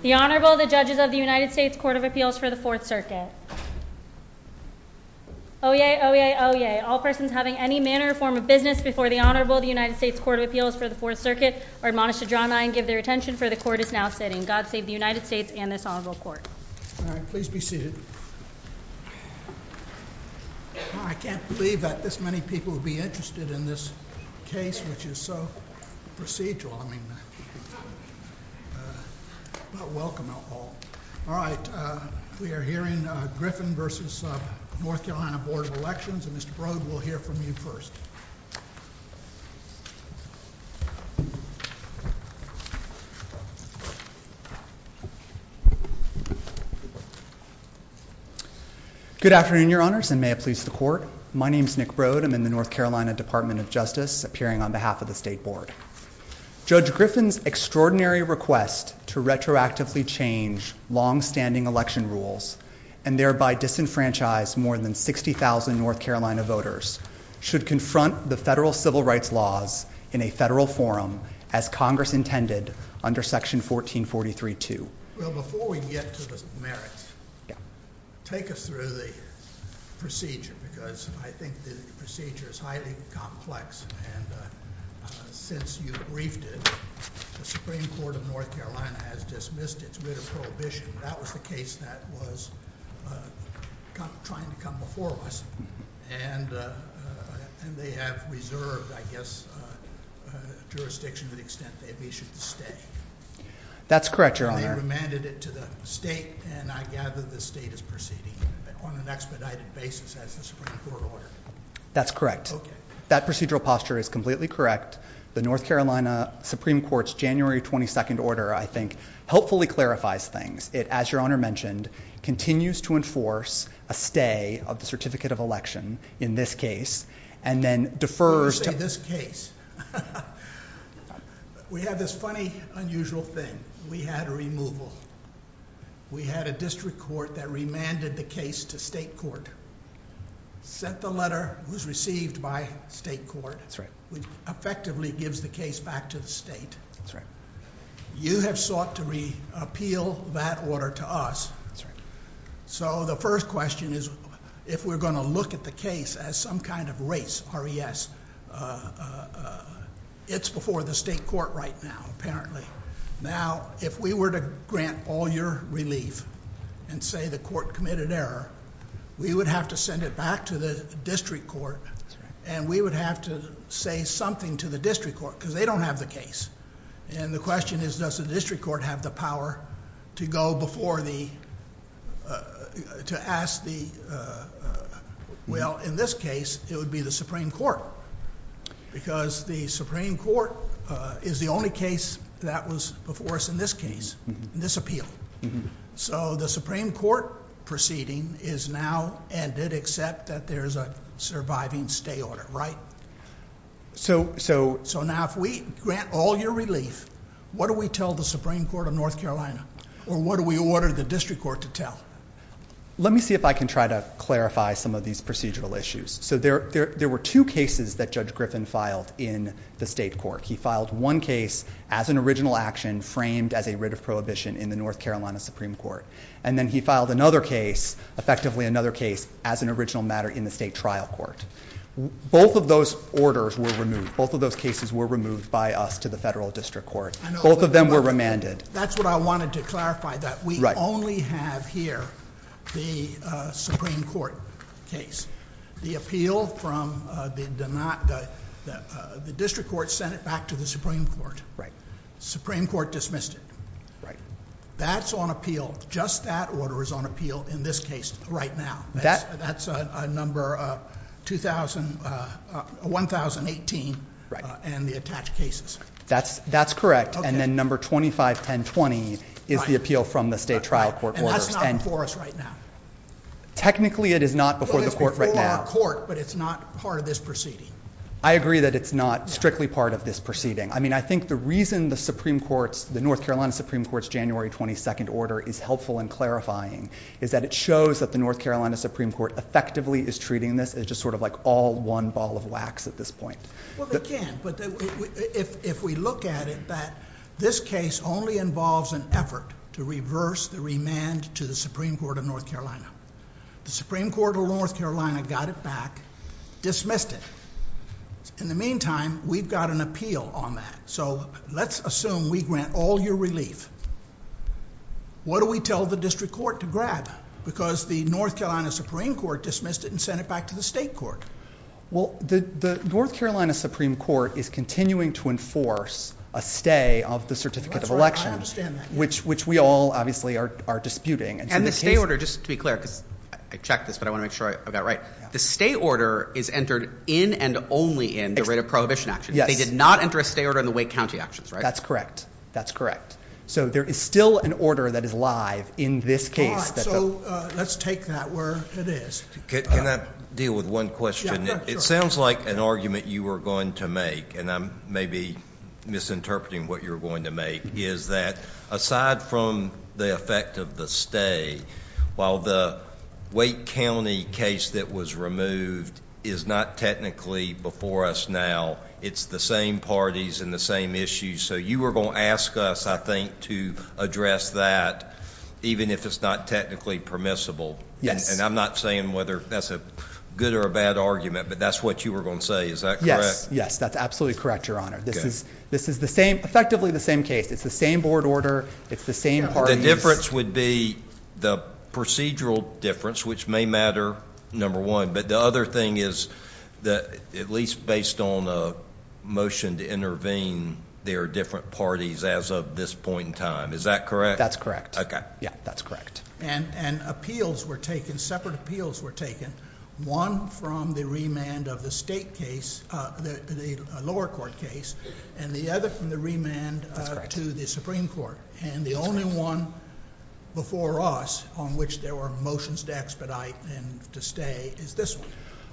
The Honorable, the Judges of the United States Court of Appeals for the Fourth Circuit. Oyez! Oyez! Oyez! All persons having any manner or form of business before the Honorable of the United States Court of Appeals for the Fourth Circuit are admonished to draw nigh and give their attention, for the Court is now sitting. God save the United States and this Honorable Court. All right, please be seated. I can't believe that this many people would be interested in this case, which is so procedural. I mean, not welcome at all. All right, we are hearing Griffin v. North Carolina Board of Elections and Mr. Broad will hear from you first. Good afternoon, Your Honors, and may it please the Court. My name is Nick Broad. I'm in the North Carolina Department of Justice, appearing on behalf of the State Board. Judge Griffin's extraordinary request to retroactively change long-standing election rules and thereby disenfranchise more than 60,000 North Carolina voters should confront the federal civil rights laws in a federal forum as Congress intended under Section 1443-2. Well, before we get to the merits, take us through the procedure, because I think the procedure is highly complex, and since you briefed it, the Supreme Court of North Carolina has dismissed it with a prohibition. That was the case that was trying to come before us, and they have reserved, I guess, jurisdiction to the extent that we should stay. That's correct, Your Honor. And they remanded it to the State, and I gather the State is proceeding on an expedited basis as a Supreme Court order. That's correct. Okay. That procedural posture is completely correct. The North Carolina Supreme Court's January 22nd order, I think, hopefully clarifies things. It, as Your Honor mentioned, continues to enforce a stay of the Certificate of Election in this case, and then defers to— We had a removal. We had a district court that remanded the case to State court, sent the letter, was received by State court, which effectively gives the case back to the State. That's right. You have sought to reappeal that order to us. That's right. So the first question is, if we're going to look at the case as some kind of race, or yes, it's before the State court right now, apparently. Now, if we were to grant all your relief and say the court committed error, we would have to send it back to the district court, and we would have to say something to the district court, because they don't have the case. And the question is, does the district court have the power to go before the—to ask the—well, in this case, it would be the Supreme Court, because the Supreme Court is the only case that was before us in this case, in this appeal. So the Supreme Court proceeding is now and did accept that there's a surviving stay order, right? So now, if we grant all your relief, what do we tell the Supreme Court of North Carolina, or what do we order the district court to tell? Let me see if I can try to clarify some of these procedural issues. So there were two cases that Judge Griffin filed in the State court. He filed one case as an original action framed as a writ of prohibition in the North Carolina Supreme Court. And then he filed another case, effectively another case, as an original matter in the State trial court. Both of those orders were removed. Both of those cases were removed by us to the federal district court. Both of them were remanded. That's what I wanted to clarify, that we only have here the Supreme Court case. The appeal from the—the district court sent it back to the Supreme Court. Right. The Supreme Court dismissed it. Right. That's on appeal. Just that order is on appeal in this case right now. That's a number of 2,000—1,018. And the attached cases. That's correct. And then number 251020 is the appeal from the State trial court order. And that's not before us right now. Technically, it is not before the court right now. It's before our court, but it's not part of this proceeding. I agree that it's not strictly part of this proceeding. I mean, I think the reason the Supreme Court's—the North Carolina Supreme Court's January 22nd order is helpful in clarifying is that it shows that the North Carolina Supreme Court effectively is treating this as just sort of like all one ball of wax at this point. Well, they can. But if we look at it, that this case only involves an effort to reverse the remand to the Supreme Court of North Carolina. The Supreme Court of North Carolina got it back, dismissed it. In the meantime, we've got an appeal on that. So let's assume we grant all your relief. What do we tell the district court to grab? Because the North Carolina Supreme Court dismissed it and sent it back to the State court. Well, the North Carolina Supreme Court is continuing to enforce a stay of the certificate of elections, which we all obviously are disputing. And the stay order, just to be clear—I checked this, but I want to make sure I got it right. The stay order is entered in and only in the rate of prohibition actions. They did not enter a stay order in the Wake County actions, right? That's correct. That's correct. So there is still an order that is live in this case. So let's take that where it is. Can I deal with one question? It sounds like an argument you were going to make, and I'm maybe misinterpreting what you're going to make, is that aside from the effect of the stay, while the Wake County case that was removed is not technically before us now, it's the same parties and the same issues. So you were going to ask us, I think, to address that, even if it's not technically permissible. And I'm not saying whether that's a good or a bad argument, but that's what you were going to say. Is that correct? Yes, that's absolutely correct, Your Honor. This is effectively the same case. It's the same board order. It's the same parties. The difference would be the procedural difference, which may matter, number one. But the other thing is at least based on a motion to intervene, there are different parties as of this point in time. Is that correct? That's correct. Okay. Yeah, that's correct. And appeals were taken, separate appeals were taken, one from the remand of the state case, the lower court case, and the other from the remand to the Supreme Court. And the only one before us on which there were motions to expedite and to stay is this one.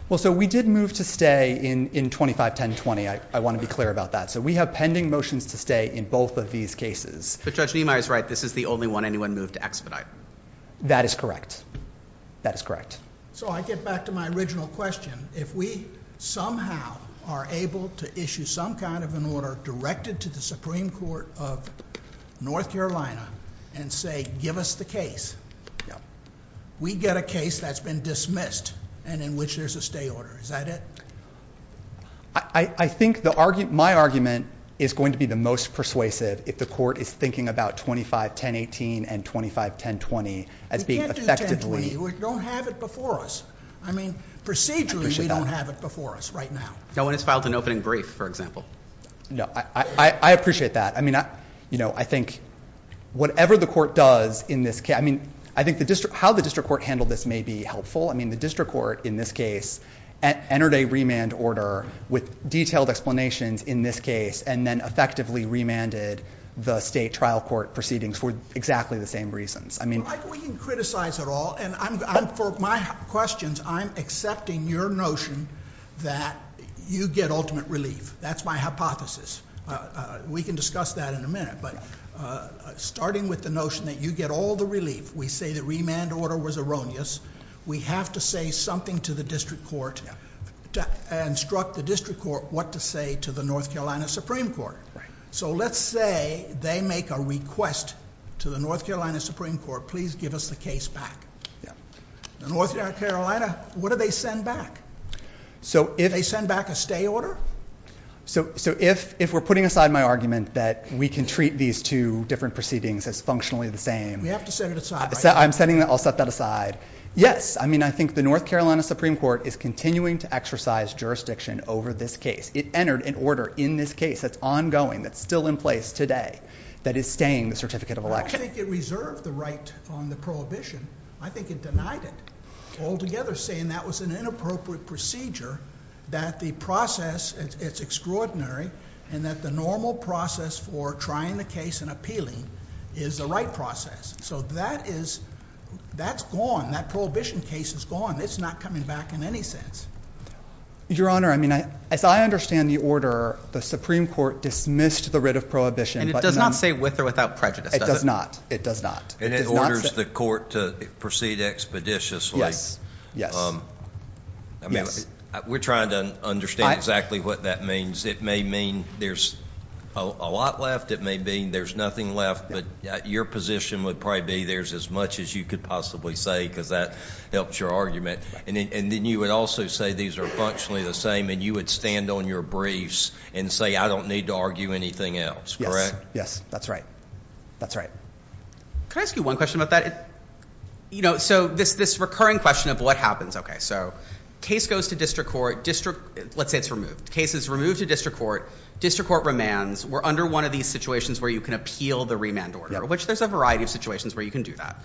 Well, so we did move to stay in 25-10-20. I want to be clear about that. So we have pending motions to stay in both of these cases. But Judge Niemeyer is right. This is the only one anyone moved to expedite. That is correct. That is correct. So I get back to my original question. If we somehow are able to issue some kind of an order directed to the Supreme Court of North Carolina and say give us the case, we get a case that's been dismissed and in which there's a stay order. Is that it? I think my argument is going to be the most persuasive if the court is thinking about 25-10-18 and 25-10-20 as being effectively. We don't have it before us. I mean, procedurally, we don't have it before us right now. No one has filed an opening brief, for example. No, I appreciate that. I mean, I think whatever the court does in this case, I mean, I think how the district court handled this may be helpful. I mean, the district court in this case entered a remand order with detailed explanations in this case and then effectively remanded the state trial court proceedings for exactly the same reasons. We can criticize it all. And for my questions, I'm accepting your notion that you get ultimate relief. That's my hypothesis. We can discuss that in a minute. But starting with the notion that you get all the relief, we say the remand order was erroneous. We have to say something to the district court, instruct the district court what to say to the North Carolina Supreme Court. So let's say they make a request to the North Carolina Supreme Court, please give us the case back. North Carolina, what do they send back? Do they send back a stay order? So if we're putting aside my argument that we can treat these two different proceedings as functionally the same. We have to set it aside. I'll set that aside. Yes, I mean, I think the North Carolina Supreme Court is continuing to exercise jurisdiction over this case. It entered an order in this case that's ongoing, that's still in place today, that is staying the certificate of election. I think it reserved the right on the prohibition. I think it denied it, altogether saying that was an inappropriate procedure, that the process is extraordinary, and that the normal process for trying the case and appealing is the right process. So that is gone. That prohibition case is gone. It's not coming back in any sense. Your Honor, I mean, as I understand the order, the Supreme Court dismissed the writ of prohibition. And it does not say with or without prejudice, does it? It does not. It does not. And it orders the court to proceed expeditiously. Yes, yes. I mean, we're trying to understand exactly what that means. It may mean there's a lot left. It may mean there's nothing left, but your position would probably be there's as much as you could possibly say, because that helps your argument. And then you would also say these are functionally the same, and you would stand on your briefs and say, I don't need to argue anything else, correct? Yes, that's right. That's right. Can I ask you one question about that? You know, so this recurring question of what happens. Okay, so case goes to district court. Let's say it's removed. Case is removed to district court. District court remands. We're under one of these situations where you can appeal the remand order, which there's a variety of situations where you can do that.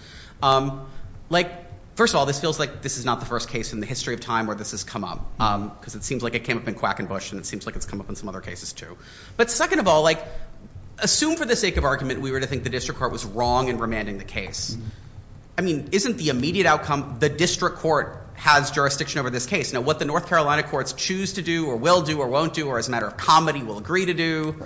Like, first of all, this feels like this is not the first case in the history of time where this has come up, because it seems like it came up in Quackenbush, and it seems like it's come up in some other cases, too. But second of all, like, assume for the sake of argument we were to think the district court was wrong in remanding the case. I mean, isn't the immediate outcome the district court has jurisdiction over this case? Now, what the North Carolina courts choose to do or will do or won't do or, as a matter of comedy, will agree to do,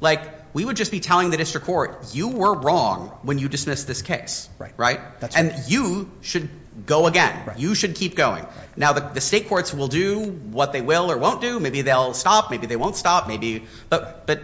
like, we would just be telling the district court, you were wrong when you dismissed this case, right? And you should go again. You should keep going. Now, the state courts will do what they will or won't do. Maybe they'll stop. Maybe they won't stop. But,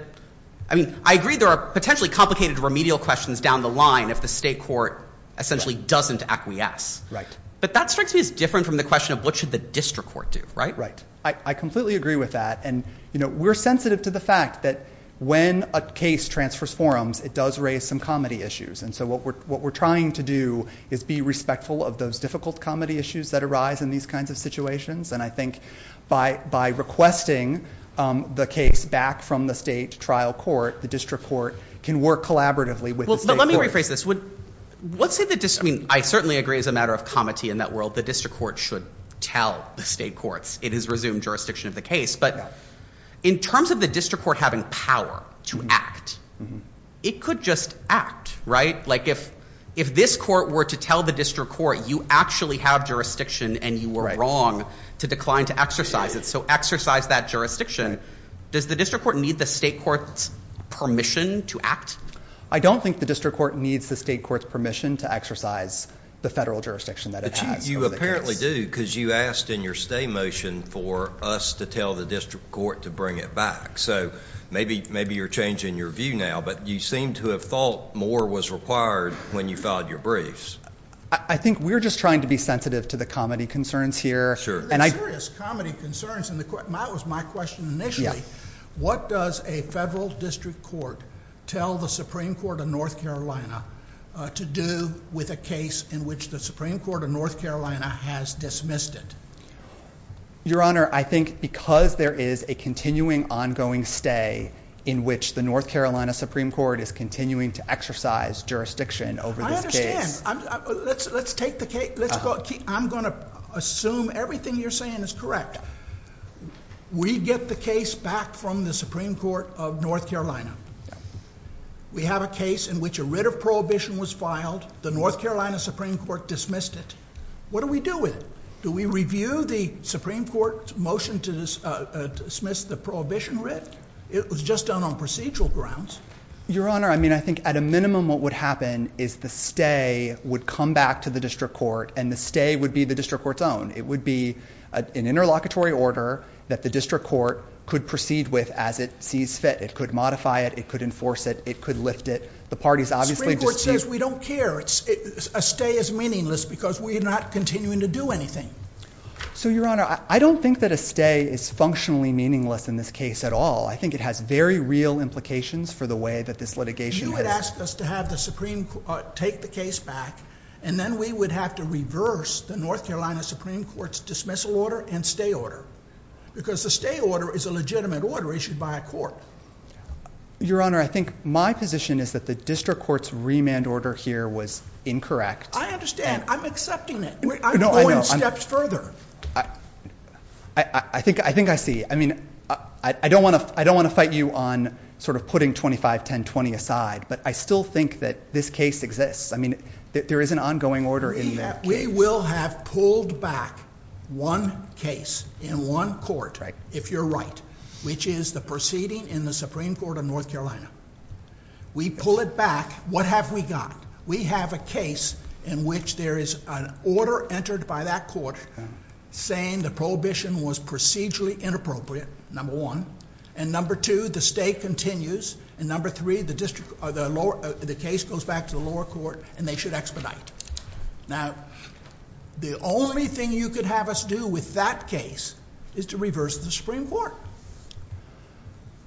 I mean, I agree there are potentially complicated remedial questions down the line if the state court essentially doesn't acquiesce. Right. But that's actually different from the question of what should the district court do, right? Right. I completely agree with that. And, you know, we're sensitive to the fact that when a case transfers forums, it does raise some comedy issues. And so what we're trying to do is be respectful of those difficult comedy issues that arise in these kinds of situations. And I think by requesting the case back from the state trial court, the district court can work collaboratively with the state court. Well, let me rephrase this. I mean, I certainly agree it's a matter of comedy in that world. The district court should tell the state courts it has resumed jurisdiction of the case. But in terms of the district court having power to act, it could just act, right? Like if this court were to tell the district court you actually have jurisdiction and you were wrong to decline to exercise it. So exercise that jurisdiction. Does the district court need the state court's permission to act? I don't think the district court needs the state court's permission to exercise the federal jurisdiction that it has. But you apparently do because you asked in your stay motion for us to tell the district court to bring it back. So maybe you're changing your view now, but you seem to have thought more was required when you filed your briefs. I think we're just trying to be sensitive to the comedy concerns here. The comedy concerns was my question initially. What does a federal district court tell the Supreme Court of North Carolina to do with a case in which the Supreme Court of North Carolina has dismissed it? Your Honor, I think because there is a continuing ongoing stay in which the North Carolina Supreme Court is continuing to exercise jurisdiction over this case. I understand. I'm going to assume everything you're saying is correct. We get the case back from the Supreme Court of North Carolina. We have a case in which a writ of prohibition was filed. The North Carolina Supreme Court dismissed it. What do we do with it? Do we review the Supreme Court's motion to dismiss the prohibition writ? It was just done on procedural grounds. Your Honor, I mean, I think at a minimum what would happen is the stay would come back to the district court and the stay would be the district court's own. It would be an interlocutory order that the district court could proceed with as it sees fit. It could modify it. It could enforce it. It could lift it. The parties obviously disagree. Supreme Court says we don't care. A stay is meaningless because we're not continuing to do anything. So, Your Honor, I don't think that a stay is functionally meaningless in this case at all. I think it has very real implications for the way that this litigation is. You would ask us to have the Supreme Court take the case back and then we would have to reverse the North Carolina Supreme Court's dismissal order and stay order. Because the stay order is a legitimate order issued by a court. Your Honor, I think my position is that the district court's remand order here was incorrect. I understand. I'm accepting it. I'm going steps further. I think I see. I mean, I don't want to fight you on sort of putting 25-10-20 aside, but I still think that this case exists. I mean, there is an ongoing order in that case. We will have pulled back one case in one court, if you're right, which is the proceeding in the Supreme Court of North Carolina. We pull it back. What have we got? We have a case in which there is an order entered by that court saying the prohibition was procedurally inappropriate, number one. And number two, the stay continues. And number three, the case goes back to the lower court and they should expedite. Now, the only thing you could have us do with that case is to reverse the Supreme Court.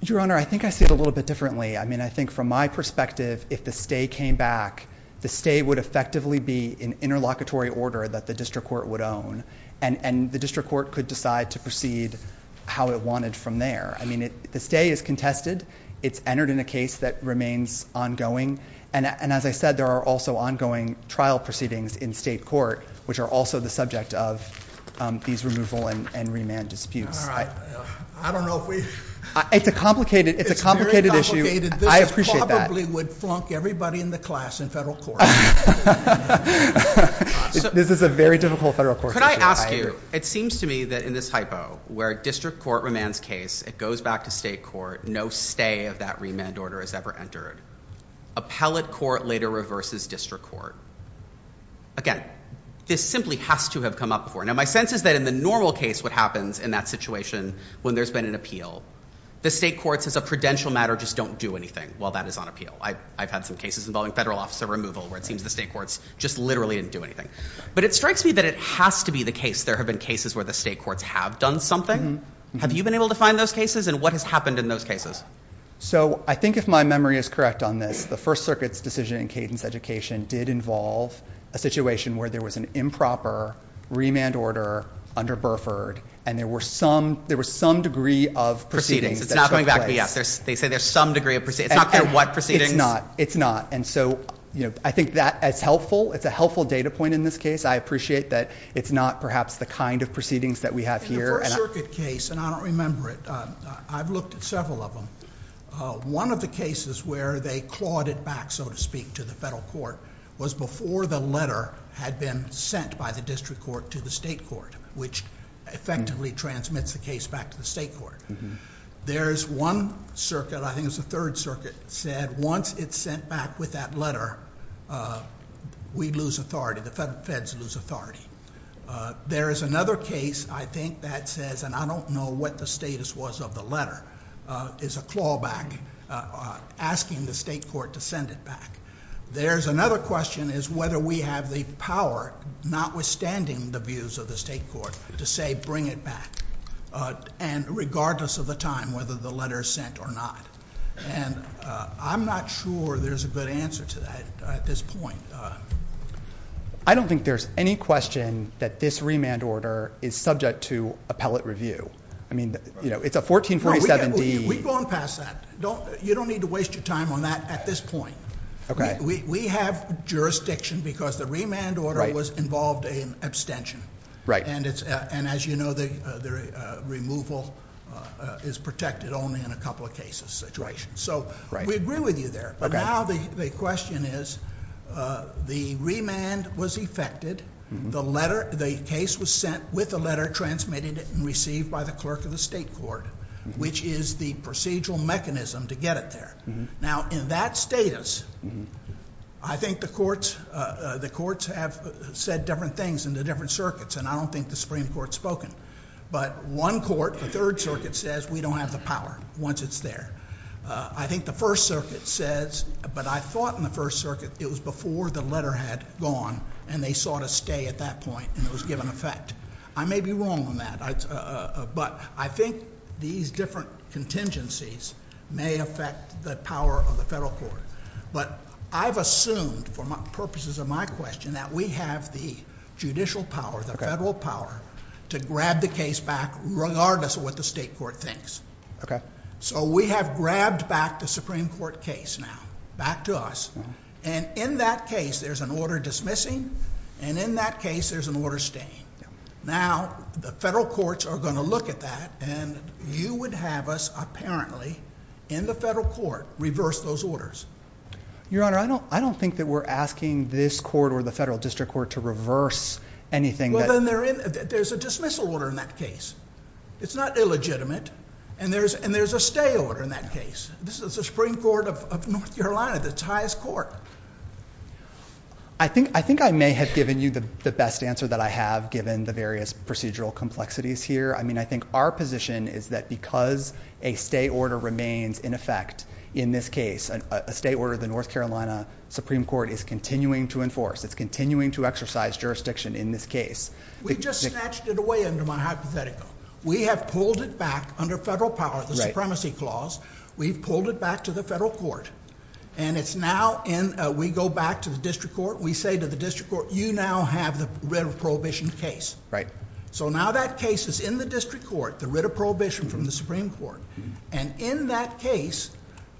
Your Honor, I think I see it a little bit differently. I mean, I think from my perspective, if the stay came back, the stay would effectively be an interlocutory order that the district court would own, and the district court could decide to proceed how it wanted from there. I mean, the stay is contested. It's entered in a case that remains ongoing. And as I said, there are also ongoing trial proceedings in state court, which are also the subject of these removal and remand disputes. All right. I don't know if we — It's a complicated issue. It's a complicated issue. I appreciate that. This probably would flunk everybody in the class in federal court. This is a very difficult federal court. Could I ask you, it seems to me that in this typo, where district court remands case, it goes back to state court, no stay of that remand order is ever entered. Appellate court later reverses district court. Again, this simply has to have come up before. Now, my sense is that in the normal case what happens in that situation when there's been an appeal, the state courts as a prudential matter just don't do anything while that is on appeal. I've had some cases involving federal officer removal where it seems the state courts just literally didn't do anything. But it strikes me that it has to be the case there have been cases where the state courts have done something. Have you been able to find those cases? And what has happened in those cases? So I think if my memory is correct on this, the First Circuit's decision in Cadence Education did involve a situation where there was an improper remand order under Burford, and there were some degree of proceedings. It's not going back. They say there's some degree of proceedings. It's not what proceedings. It's not. And so I think that's helpful. It's a helpful data point in this case. I appreciate that it's not perhaps the kind of proceedings that we have here. The First Circuit case, and I don't remember it, I've looked at several of them, one of the cases where they clawed it back, so to speak, to the federal court, was before the letter had been sent by the district court to the state court, which effectively transmits the case back to the state court. There's one circuit, I think it's the Third Circuit, said once it's sent back with that letter, we lose authority. The feds lose authority. There is another case, I think, that says, and I don't know what the status was of the letter, is a clawback asking the state court to send it back. There's another question is whether we have the power, notwithstanding the views of the state court, to say bring it back, and regardless of the time, whether the letter is sent or not. And I'm not sure there's a good answer to that at this point. I don't think there's any question that this remand order is subject to appellate review. I mean, it's a 1447B. We've gone past that. You don't need to waste your time on that at this point. Okay. We have jurisdiction because the remand order was involved in abstention. And as you know, the removal is protected only in a couple of cases. So we agree with you there. Okay. Now the question is the remand was effected. The case was sent with the letter transmitted and received by the clerk of the state court, which is the procedural mechanism to get it there. Now, in that status, I think the courts have said different things in the different circuits, and I don't think the Supreme Court has spoken. But one court, the Third Circuit, says we don't have the power once it's there. I think the First Circuit says, but I thought in the First Circuit it was before the letter had gone, and they sought a stay at that point, and it was given effect. I may be wrong on that. But I think these different contingencies may affect the power of the federal court. But I've assumed for purposes of my question that we have the judicial power, the federal power, to grab the case back regardless of what the state court thinks. Okay. So we have grabbed back the Supreme Court case now, back to us. And in that case, there's an order dismissing, and in that case, there's an order staying. Now, the federal courts are going to look at that, and you would have us apparently in the federal court reverse those orders. Your Honor, I don't think that we're asking this court or the federal district court to reverse anything. Well, then there's a dismissal order in that case. It's not illegitimate, and there's a stay order in that case. This is the Supreme Court of North Carolina, the highest court. I think I may have given you the best answer that I have given the various procedural complexities here. I mean, I think our position is that because a stay order remains in effect in this case, a stay order of the North Carolina Supreme Court is continuing to enforce. It's continuing to exercise jurisdiction in this case. We've just snatched it away under my hypothetical. We have pulled it back under federal power, the supremacy clause. We've pulled it back to the federal court. We go back to the district court. We say to the district court, you now have the writ of prohibition case. Right. Now that case is in the district court, the writ of prohibition from the Supreme Court. In that case,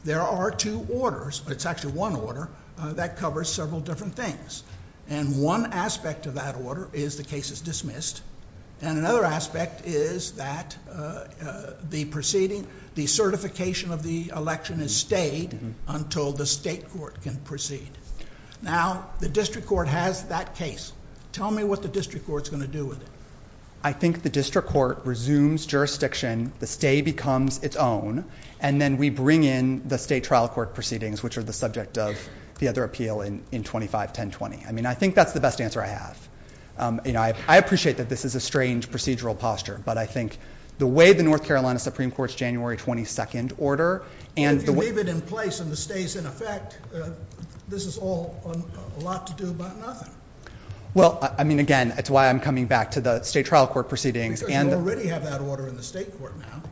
there are two orders. It's actually one order that covers several different things. One aspect of that order is the case is dismissed, and another aspect is that the certification of the election is stayed until the state court can proceed. Now, the district court has that case. Tell me what the district court is going to do with it. I think the district court resumes jurisdiction, the stay becomes its own, and then we bring in the state trial court proceedings, which are the subject of the other appeal in 25-1020. I mean, I think that's the best answer I have. You know, I appreciate that this is a strange procedural posture, but I think the way the North Carolina Supreme Court's January 22nd order and the way— If you leave it in place and it stays in effect, this is all a lot to do but nothing. Well, I mean, again, it's why I'm coming back to the state trial court proceedings and— You already have that order in the state court now.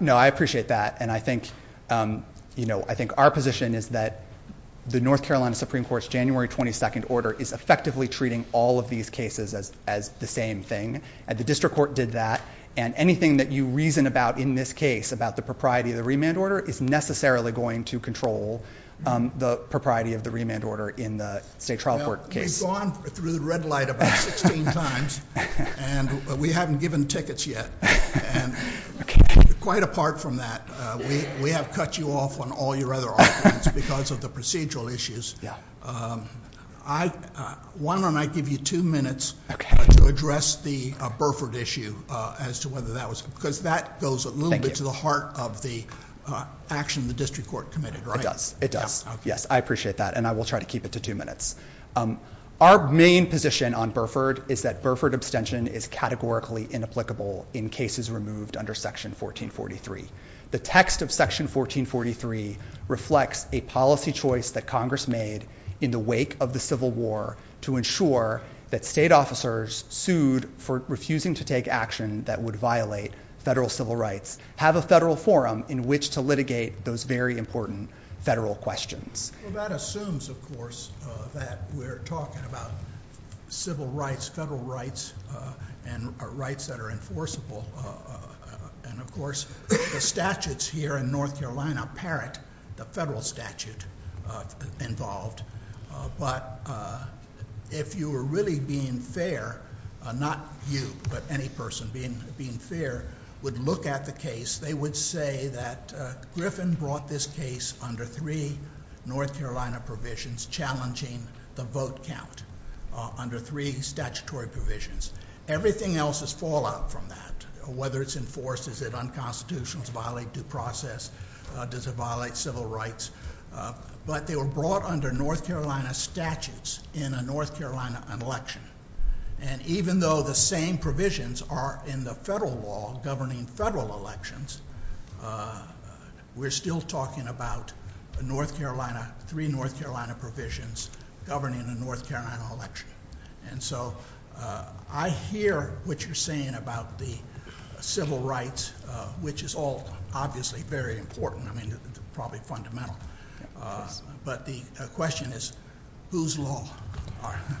No, I appreciate that, and I think, you know, I think our position is that the North Carolina Supreme Court's January 22nd order is effectively treating all of these cases as the same thing. The district court did that, and anything that you reason about in this case, about the propriety of the remand order, is necessarily going to control the propriety of the remand order in the state trial court case. You've gone through the red light about 16 times, and we haven't given tickets yet. And quite apart from that, we have cut you off on all your other arguments because of the procedural issues. Why don't I give you two minutes to address the Burford issue as to whether that was— because that goes a little bit to the heart of the action the district court committed, right? It does. It does. Yes, I appreciate that, and I will try to keep it to two minutes. Our main position on Burford is that Burford abstention is categorically inapplicable in cases removed under Section 1443. The text of Section 1443 reflects a policy choice that Congress made in the wake of the Civil War to ensure that state officers sued for refusing to take action that would violate federal civil rights have a federal forum in which to litigate those very important federal questions. Well, that assumes, of course, that we're talking about civil rights, federal rights, and rights that are enforceable. And, of course, the statutes here in North Carolina parrot the federal statute involved. But if you were really being fair—not you, but any person being fair— would look at the case, they would say that Griffin brought this case under three North Carolina provisions challenging the vote count, under three statutory provisions. Everything else is fallout from that. Whether it's enforced, is it unconstitutional to violate due process, does it violate civil rights? But they were brought under North Carolina statutes in a North Carolina election. And even though the same provisions are in the federal law governing federal elections, we're still talking about three North Carolina provisions governing the North Carolina election. And so I hear what you're saying about the civil rights, which is all obviously very important. I mean, it's probably fundamental. But the question is, whose law are they?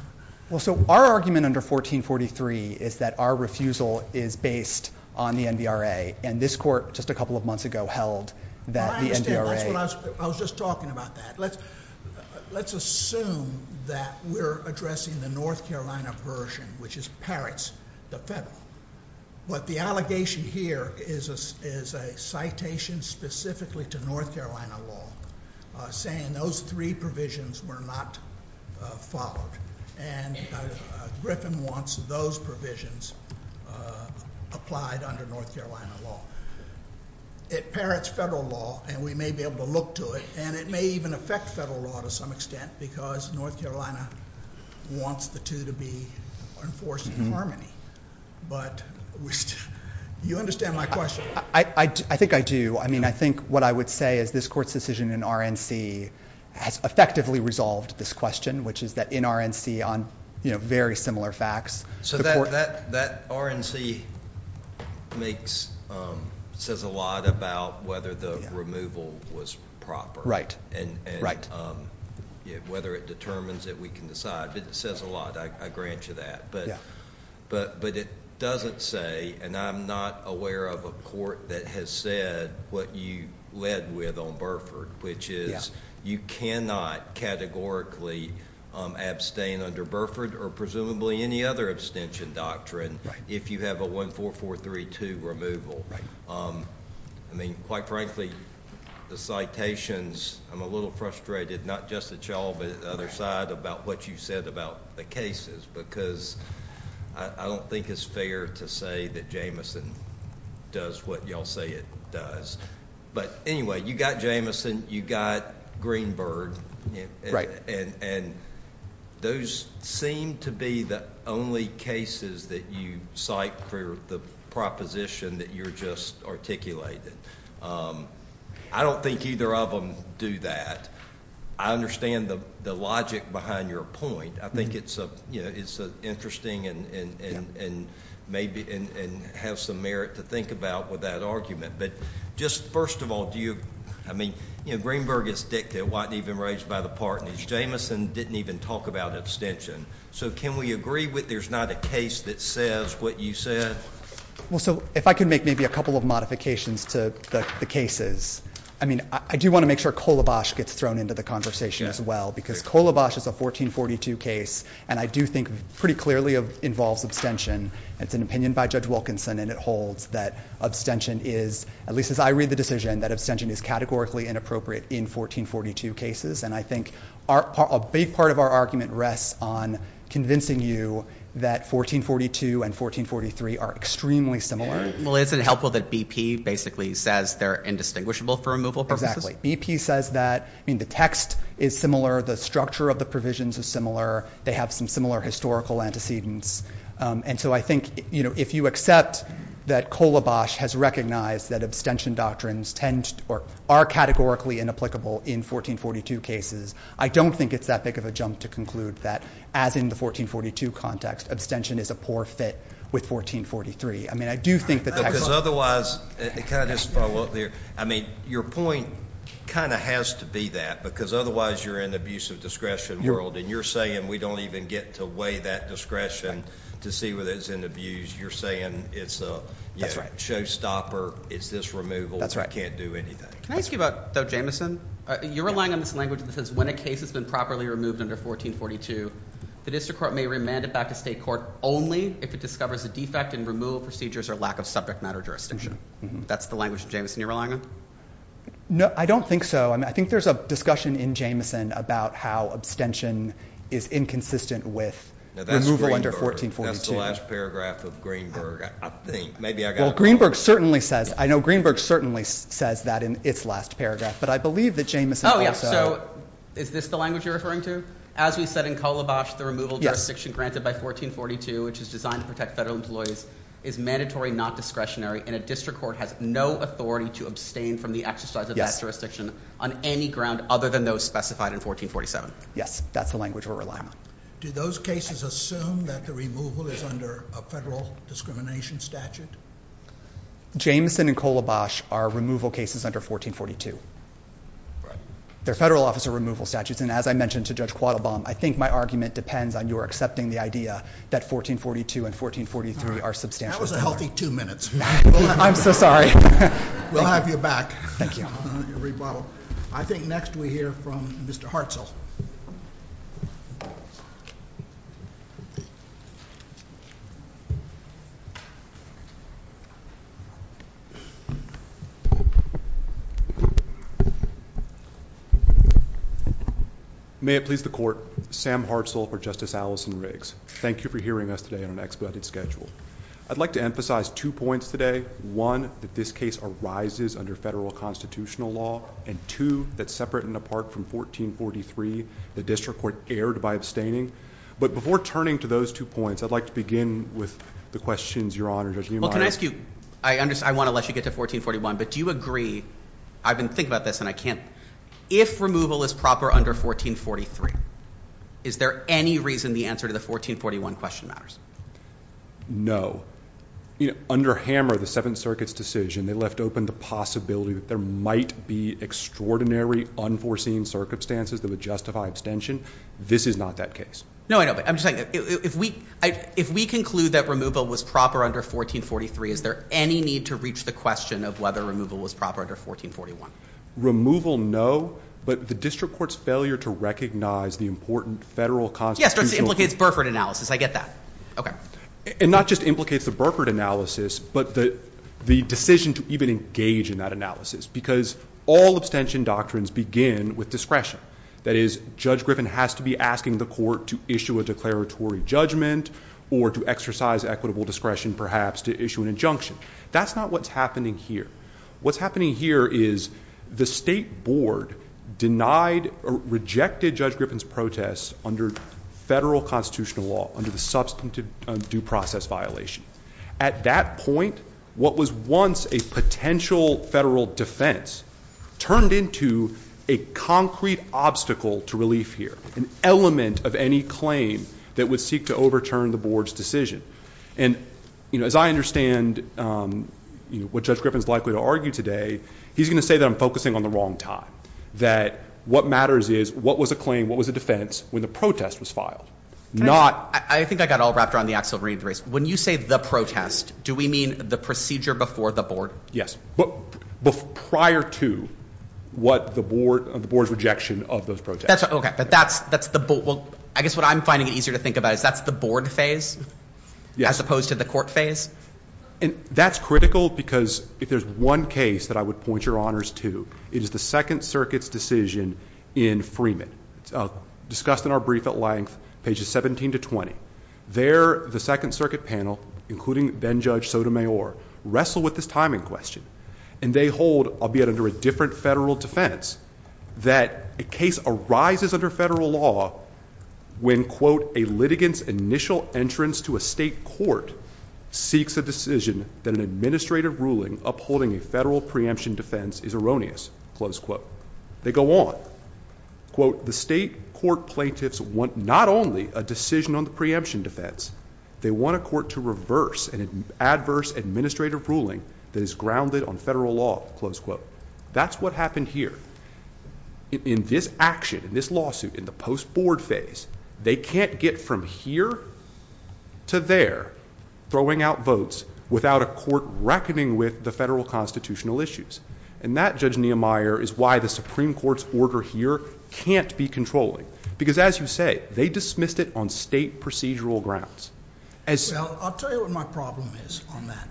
Well, so our argument under 1443 is that our refusal is based on the NVRA. And this court just a couple of months ago held that the NVRA— I was just talking about that. Let's assume that we're addressing the North Carolina version, which is Parrots, the federal. But the allegation here is a citation specifically to North Carolina law saying those three provisions were not followed. And Griffin wants those provisions applied under North Carolina law. It Parrots federal law, and we may be able to look to it. And it may even affect federal law to some extent because North Carolina wants the two to be enforced in harmony. But do you understand my question? I think I do. I mean, I think what I would say is this court's decision in RNC has effectively resolved this question, which is that in RNC on very similar facts. So that RNC says a lot about whether the removal was proper and whether it determines that we can decide. It says a lot. I grant you that. But it doesn't say, and I'm not aware of a court that has said what you led with on Burford, which is you cannot categorically abstain under Burford or presumably any other abstention doctrine if you have a 14432 removal. I mean, quite frankly, the citations, I'm a little frustrated, not just at y'all but at the other side about what you said about the cases because I don't think it's fair to say that Jamison does what y'all say it does. But anyway, you got Jamison, you got Greenberg, and those seem to be the only cases that you cite for the proposition that you just articulated. I don't think either of them do that. I understand the logic behind your point. I think it's interesting and maybe has some merit to think about with that argument. But just first of all, I mean, Greenberg is a dick that wasn't even raised by the partners. Jamison didn't even talk about abstention. So can we agree that there's not a case that says what you said? Well, so if I could make maybe a couple of modifications to the cases. I mean, I do want to make sure Kolobosh gets thrown into the conversation as well because Kolobosh is a 1442 case, and I do think pretty clearly involves abstention. It's an opinion by Judge Wilkinson, and it holds that abstention is, at least as I read the decision, that abstention is categorically inappropriate in 1442 cases. And I think a big part of our argument rests on convincing you that 1442 and 1443 are extremely similar. Well, isn't it helpful that BP basically says they're indistinguishable for removal purposes? Exactly. BP says that. I mean, the text is similar. The structure of the provisions is similar. They have some similar historical antecedents. And so I think, you know, if you accept that Kolobosh has recognized that abstention doctrines tend or are categorically inapplicable in 1442 cases, I don't think it's that big of a jump to conclude that, as in the 1442 context, abstention is a poor fit with 1443. I mean, I do think that that goes. Because otherwise, can I just follow up there? I mean, your point kind of has to be that because otherwise you're in the abuse of discretion world, and you're saying we don't even get to weigh that discretion to see whether it's in abuse. You're saying it's a showstopper, it's disremoval, we can't do anything. Can I ask you about Jameson? You're relying on this language that says when a case has been properly removed under 1442, the district court may remand it back to state court only if it discovers a defect in removal procedures or lack of subject matter jurisdiction. That's the language of Jameson you're relying on? No, I don't think so. I think there's a discussion in Jameson about how abstention is inconsistent with removal under 1442. That's the last paragraph of Greenberg, I think. Well, Greenberg certainly says, I know Greenberg certainly says that in its last paragraph, but I believe that Jameson says that. Oh, yes. So is this the language you're referring to? As we said in Kolobosh, the removal jurisdiction granted by 1442, which is designed to protect federal employees, is mandatory, not discretionary, and a district court has no authority to abstain from the exercise of that jurisdiction on any ground other than those specified in 1447. Yes, that's the language we're relying on. Do those cases assume that the removal is under a federal discrimination statute? Jameson and Kolobosh are removal cases under 1442. They're federal officer removal statutes, and as I mentioned to Judge Quattlebaum, I think my argument depends on your accepting the idea that 1442 and 1443 are substantial. That was a healthy two minutes. I'm so sorry. We'll have you back. Thank you. I think next we hear from Mr. Hartzell. May it please the Court, Sam Hartzell for Justice Allison Riggs. Thank you for hearing us today on an expedited schedule. I'd like to emphasize two points today. One, that this case arises under federal constitutional law, and two, that separate and apart from 1443, the district court erred by abstaining. But before turning to those two points, I'd like to begin with the questions, Your Honor. Well, can I ask you, I want to let you get to 1441, but do you agree, I've been thinking about this, and I can't, if removal is proper under 1443, is there any reason the answer to the 1441 question matters? No. Under Hammer, the Seventh Circuit's decision, they left open the possibility that there might be extraordinary, unforeseen circumstances that would justify extension. This is not that case. No, I know, but I'm just saying, if we conclude that removal was proper under 1443, is there any need to reach the question of whether removal was proper under 1441? Removal, no, but the district court's failure to recognize the important federal constitutional law implicates Burford analysis, I get that. Okay. And not just implicates the Burford analysis, but the decision to even engage in that analysis, because all abstention doctrines begin with discretion. That is, Judge Griffin has to be asking the court to issue a declaratory judgment, or to exercise equitable discretion, perhaps, to issue an injunction. That's not what's happening here. What's happening here is the state board denied or rejected Judge Griffin's protest under federal constitutional law, under the substantive due process violation. At that point, what was once a potential federal defense turned into a concrete obstacle to relief here, an element of any claim that would seek to overturn the board's decision. And, you know, as I understand what Judge Griffin's likely to argue today, he's going to say that I'm focusing on the wrong time, that what matters is what was a claim, what was a defense, when the protest was filed. I think I got all wrapped around the Axel Reid race. When you say the protest, do we mean the procedure before the board? Yes. Prior to what the board's rejection of those protests. I guess what I'm finding easier to think about is that's the board phase, as opposed to the court phase. That's critical because if there's one case that I would point your honors to, it is the Second Circuit's decision in Freeman, discussed in our brief at length, pages 17 to 20. There, the Second Circuit panel, including then-Judge Sotomayor, wrestle with this timing question. And they hold, albeit under a different federal defense, that a case arises under federal law when, quote, a litigant's initial entrance to a state court seeks a decision that an administrative ruling upholding a federal preemption defense is erroneous, close quote. They go on, quote, the state court plaintiffs want not only a decision on the preemption defense, they want a court to reverse an adverse administrative ruling that is grounded on federal law, close quote. That's what happened here. In this action, in this lawsuit, in the post-board phase, they can't get from here to there, throwing out votes without a court reckoning with the federal constitutional issues. And that, Judge Niemeyer, is why the Supreme Court's order here can't be controlling. Because as you say, they dismissed it on state procedural grounds. Well, I'll tell you what my problem is on that.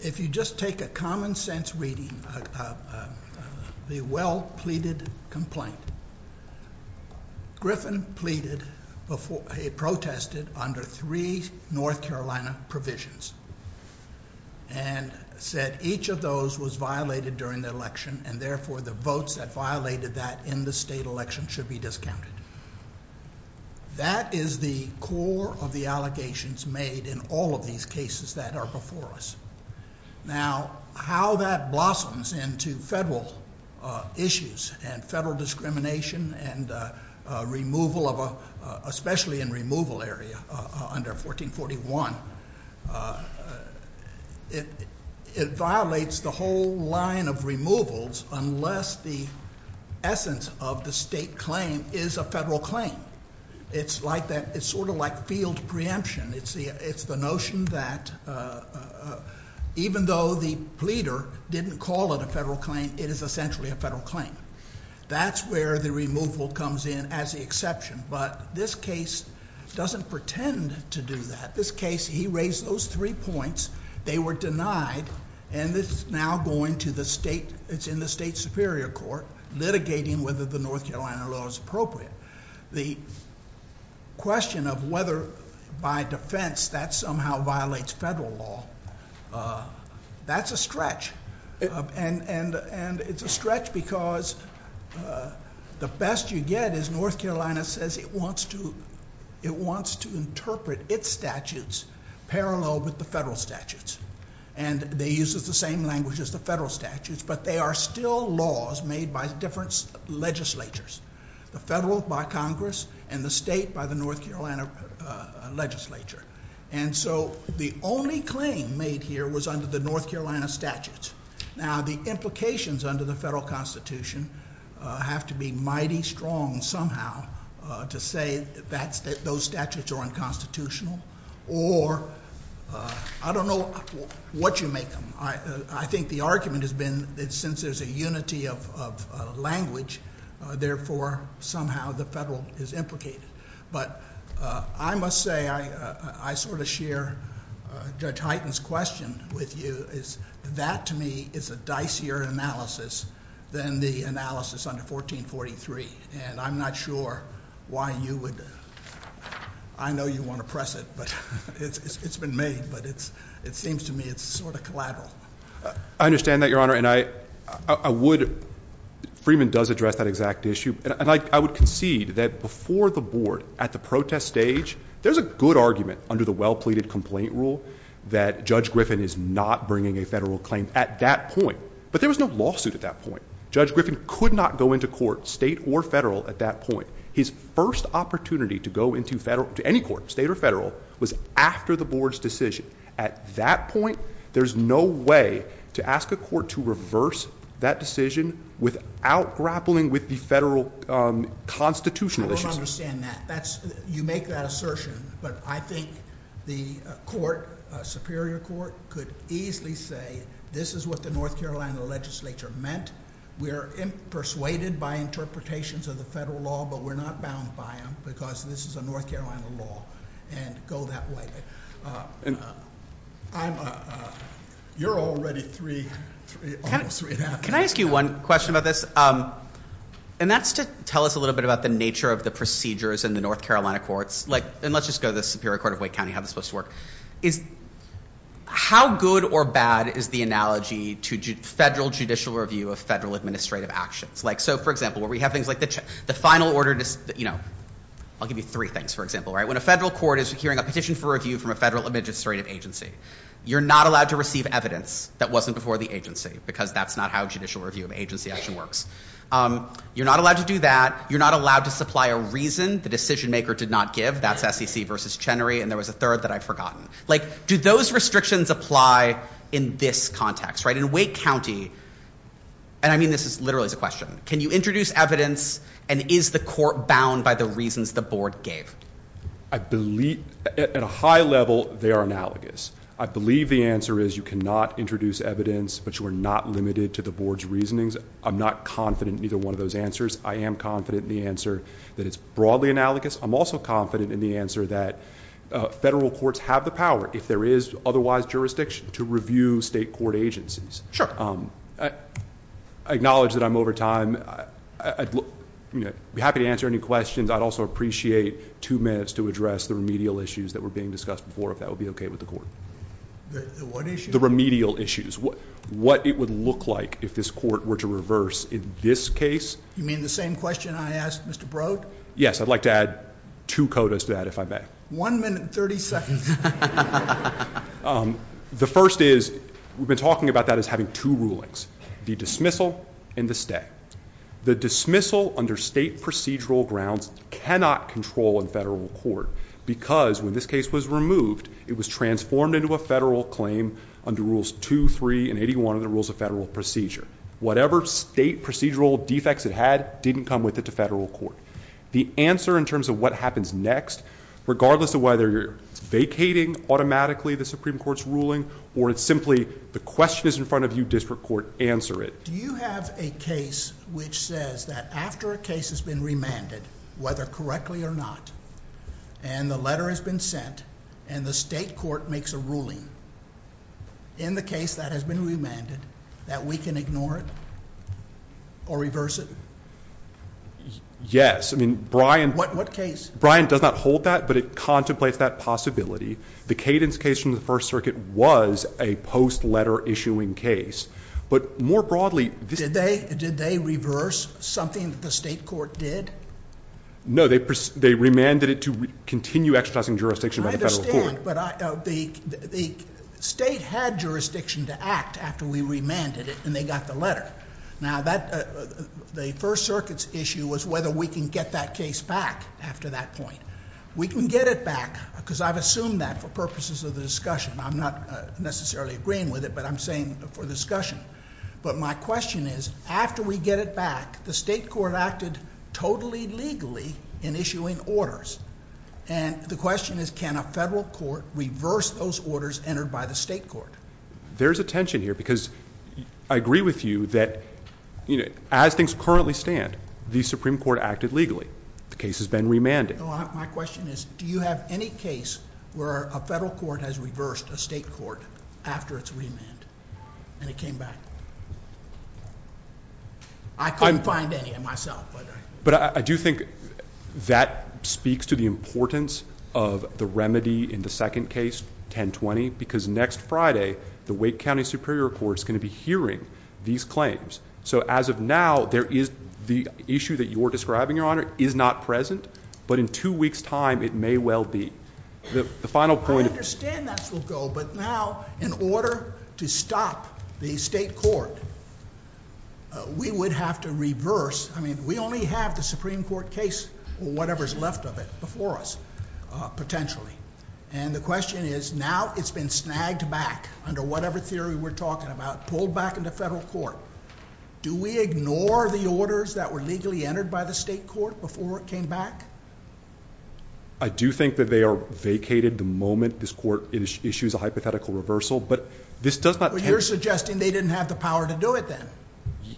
If you just take a common sense reading of the well-pleaded complaint, Griffin pleaded before, he protested under three North Carolina provisions, and said each of those was violated during the election, and therefore the votes that violated that in the state election should be discounted. That is the core of the allegations made in all of these cases that are before us. Now, how that blossoms into federal issues and federal discrimination and removal of a, especially in removal area under 1441, it violates the whole line of removals unless the essence of the state claim is a federal claim. It's sort of like field preemption. It's the notion that even though the pleader didn't call it a federal claim, it is essentially a federal claim. That's where the removal comes in as the exception. But this case doesn't pretend to do that. This case, he raised those three points. They were denied, and this is now going to the state, it's in the state superior court, litigating whether the North Carolina law is appropriate. The question of whether by defense that somehow violates federal law, that's a stretch. And it's a stretch because the best you get is North Carolina says it wants to interpret its statutes parallel with the federal statutes, and they use the same language as the federal statutes, but they are still laws made by different legislatures, the federal by Congress and the state by the North Carolina legislature. And so the only claim made here was under the North Carolina statutes. Now, the implications under the federal constitution have to be mighty strong somehow to say that those statutes are unconstitutional, or I don't know what you make of them. I think the argument has been that since there's a unity of language, therefore, somehow the federal is implicated. But I must say, I sort of share Judge Hyten's question with you, is that to me is a dicier analysis than the analysis under 1443, and I'm not sure why you would, I know you want to press it, but it's been made, but it seems to me it's sort of collateral. I understand that, Your Honor, and I would, Freeman does address that exact issue, and I would concede that before the board at the protest stage, there's a good argument under the well-pleaded complaint rule that Judge Griffin is not bringing a federal claim at that point, but there was no lawsuit at that point. Judge Griffin could not go into court, state or federal, at that point. His first opportunity to go into any court, state or federal, was after the board's decision. At that point, there's no way to ask a court to reverse that decision without grappling with the federal constitutional issues. I don't understand that. You make that assertion, but I think the court, a superior court, could easily say this is what the North Carolina legislature meant. We are persuaded by interpretations of the federal law, but we're not bound by them because this is a North Carolina law, and go that way. You're already three, almost three and a half minutes. Can I ask you one question about this? And that's to tell us a little bit about the nature of the procedures in the North Carolina courts. And let's just go to the Superior Court of Wake County, how this works. How good or bad is the analogy to federal judicial review of federal administrative actions? So, for example, where we have things like the final order, I'll give you three things, for example. When a federal court is securing a petition for review from a federal administrative agency, you're not allowed to receive evidence that wasn't before the agency because that's not how judicial review of an agency actually works. You're not allowed to do that. You're not allowed to supply a reason the decision-maker did not give. That's SEC versus Chenery, and there was a third that I've forgotten. Do those restrictions apply in this context? In Wake County, and I mean this literally as a question, can you introduce evidence, and is the court bound by the reasons the board gave? At a high level, they are analogous. I believe the answer is you cannot introduce evidence, but you are not limited to the board's reasonings. I'm not confident in either one of those answers. I am confident in the answer that it's broadly analogous. I'm also confident in the answer that federal courts have the power, if there is otherwise jurisdiction, to review state court agencies. Sure. I acknowledge that I'm over time. I'd be happy to answer any questions. I'd also appreciate two minutes to address the remedial issues that were being discussed before, if that would be okay with the court. The what issues? The remedial issues, what it would look like if this court were to reverse in this case. You mean the same question I asked Mr. Brode? Yes, I'd like to add two quotas to that, if I may. One minute and 37 seconds. The first is, we've been talking about that as having two rulings, the dismissal and the stay. The dismissal under state procedural grounds cannot control a federal court, because when this case was removed, it was transformed into a federal claim under Rules 2, 3, and 81 of the Rules of Federal Procedure. Whatever state procedural defects it had didn't come with it to federal court. The answer in terms of what happens next, regardless of whether you're vacating automatically the Supreme Court's ruling, or it's simply the question is in front of you, district court, answer it. Do you have a case which says that after a case has been remanded, whether correctly or not, and the letter has been sent, and the state court makes a ruling in the case that has been remanded, that we can ignore it or reverse it? Yes. What case? Brian does not hold that, but it contemplates that possibility. The Cadence case from the First Circuit was a post-letter issuing case. But more broadly... Did they reverse something the state court did? No, they remanded it to continue exercising jurisdiction by the federal court. I understand, but the state had jurisdiction to act after we remanded it, and they got the letter. Now, the First Circuit's issue was whether we can get that case back after that point. We can get it back, because I've assumed that for purposes of the discussion. I'm not necessarily agreeing with it, but I'm saying for the discussion. But my question is, after we get it back, the state court acted totally legally in issuing orders. And the question is, can a federal court reverse those orders entered by the state court? There's a tension here, because I agree with you that, as things currently stand, the Supreme Court acted legally. The case has been remanded. My question is, do you have any case where a federal court has reversed a state court after it's remanded, and it came back? I couldn't find any myself. But I do think that speaks to the importance of the remedy in the second case, 1020, because next Friday, the Wake County Superior Court is going to be hearing these claims. So as of now, the issue that you're describing, Your Honor, is not present. But in two weeks' time, it may well be. The final point— I understand that's the goal. But now, in order to stop the state court, we would have to reverse— I mean, we only have the Supreme Court case, or whatever's left of it, before us, potentially. And the question is, now it's been snagged back, under whatever theory we're talking about, pulled back into federal court. Do we ignore the orders that were legally entered by the state court before it came back? I do think that they are vacated the moment this court issues a hypothetical reversal. But this does not— But you're suggesting they didn't have the power to do it then.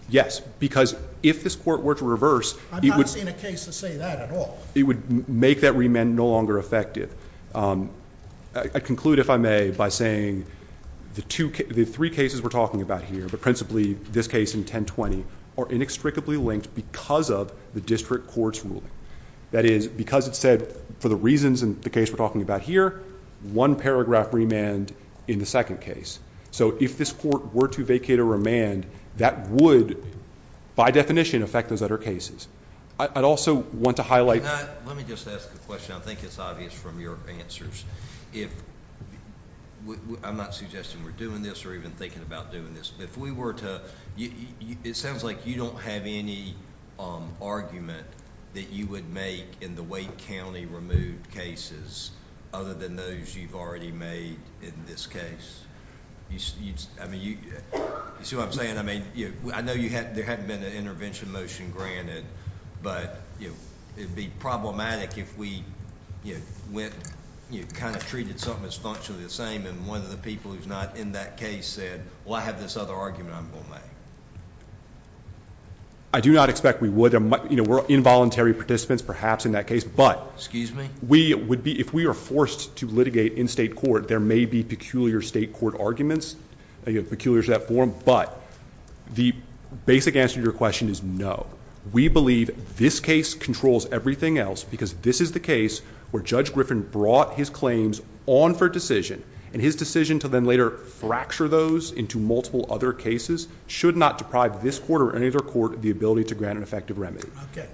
Yes, because if this court were to reverse— I'm not seeing a case to say that at all. It would make that remand no longer effective. I conclude, if I may, by saying the three cases we're talking about here, but principally this case in 1020, are inextricably linked because of the district court's ruling. That is, because it said, for the reasons in the case we're talking about here, one paragraph remand in the second case. So if this court were to vacate a remand, that would, by definition, affect those other cases. I'd also want to highlight— Let me just ask a question. I think it's obvious from your answers. I'm not suggesting we're doing this or even thinking about doing this. If we were to—it sounds like you don't have any argument that you would make in the Wake County removed cases, other than those you've already made in this case. You see what I'm saying? I mean, I know there hadn't been an intervention motion granted, but it would be problematic if we kind of treated something that's not truly the same, and one of the people who's not in that case said, well, I have this other argument I'm going to make. I do not expect we would. We're involuntary participants, perhaps, in that case, but— Excuse me? If we are forced to litigate in state court, there may be peculiar state court arguments, peculiar to that form, but the basic answer to your question is no. We believe this case controls everything else, because this is the case where Judge Griffin brought his claims on for decision, and his decision to then later fracture those into multiple other cases should not deprive this court or any other court of the ability to grant an effective remedy. Okay.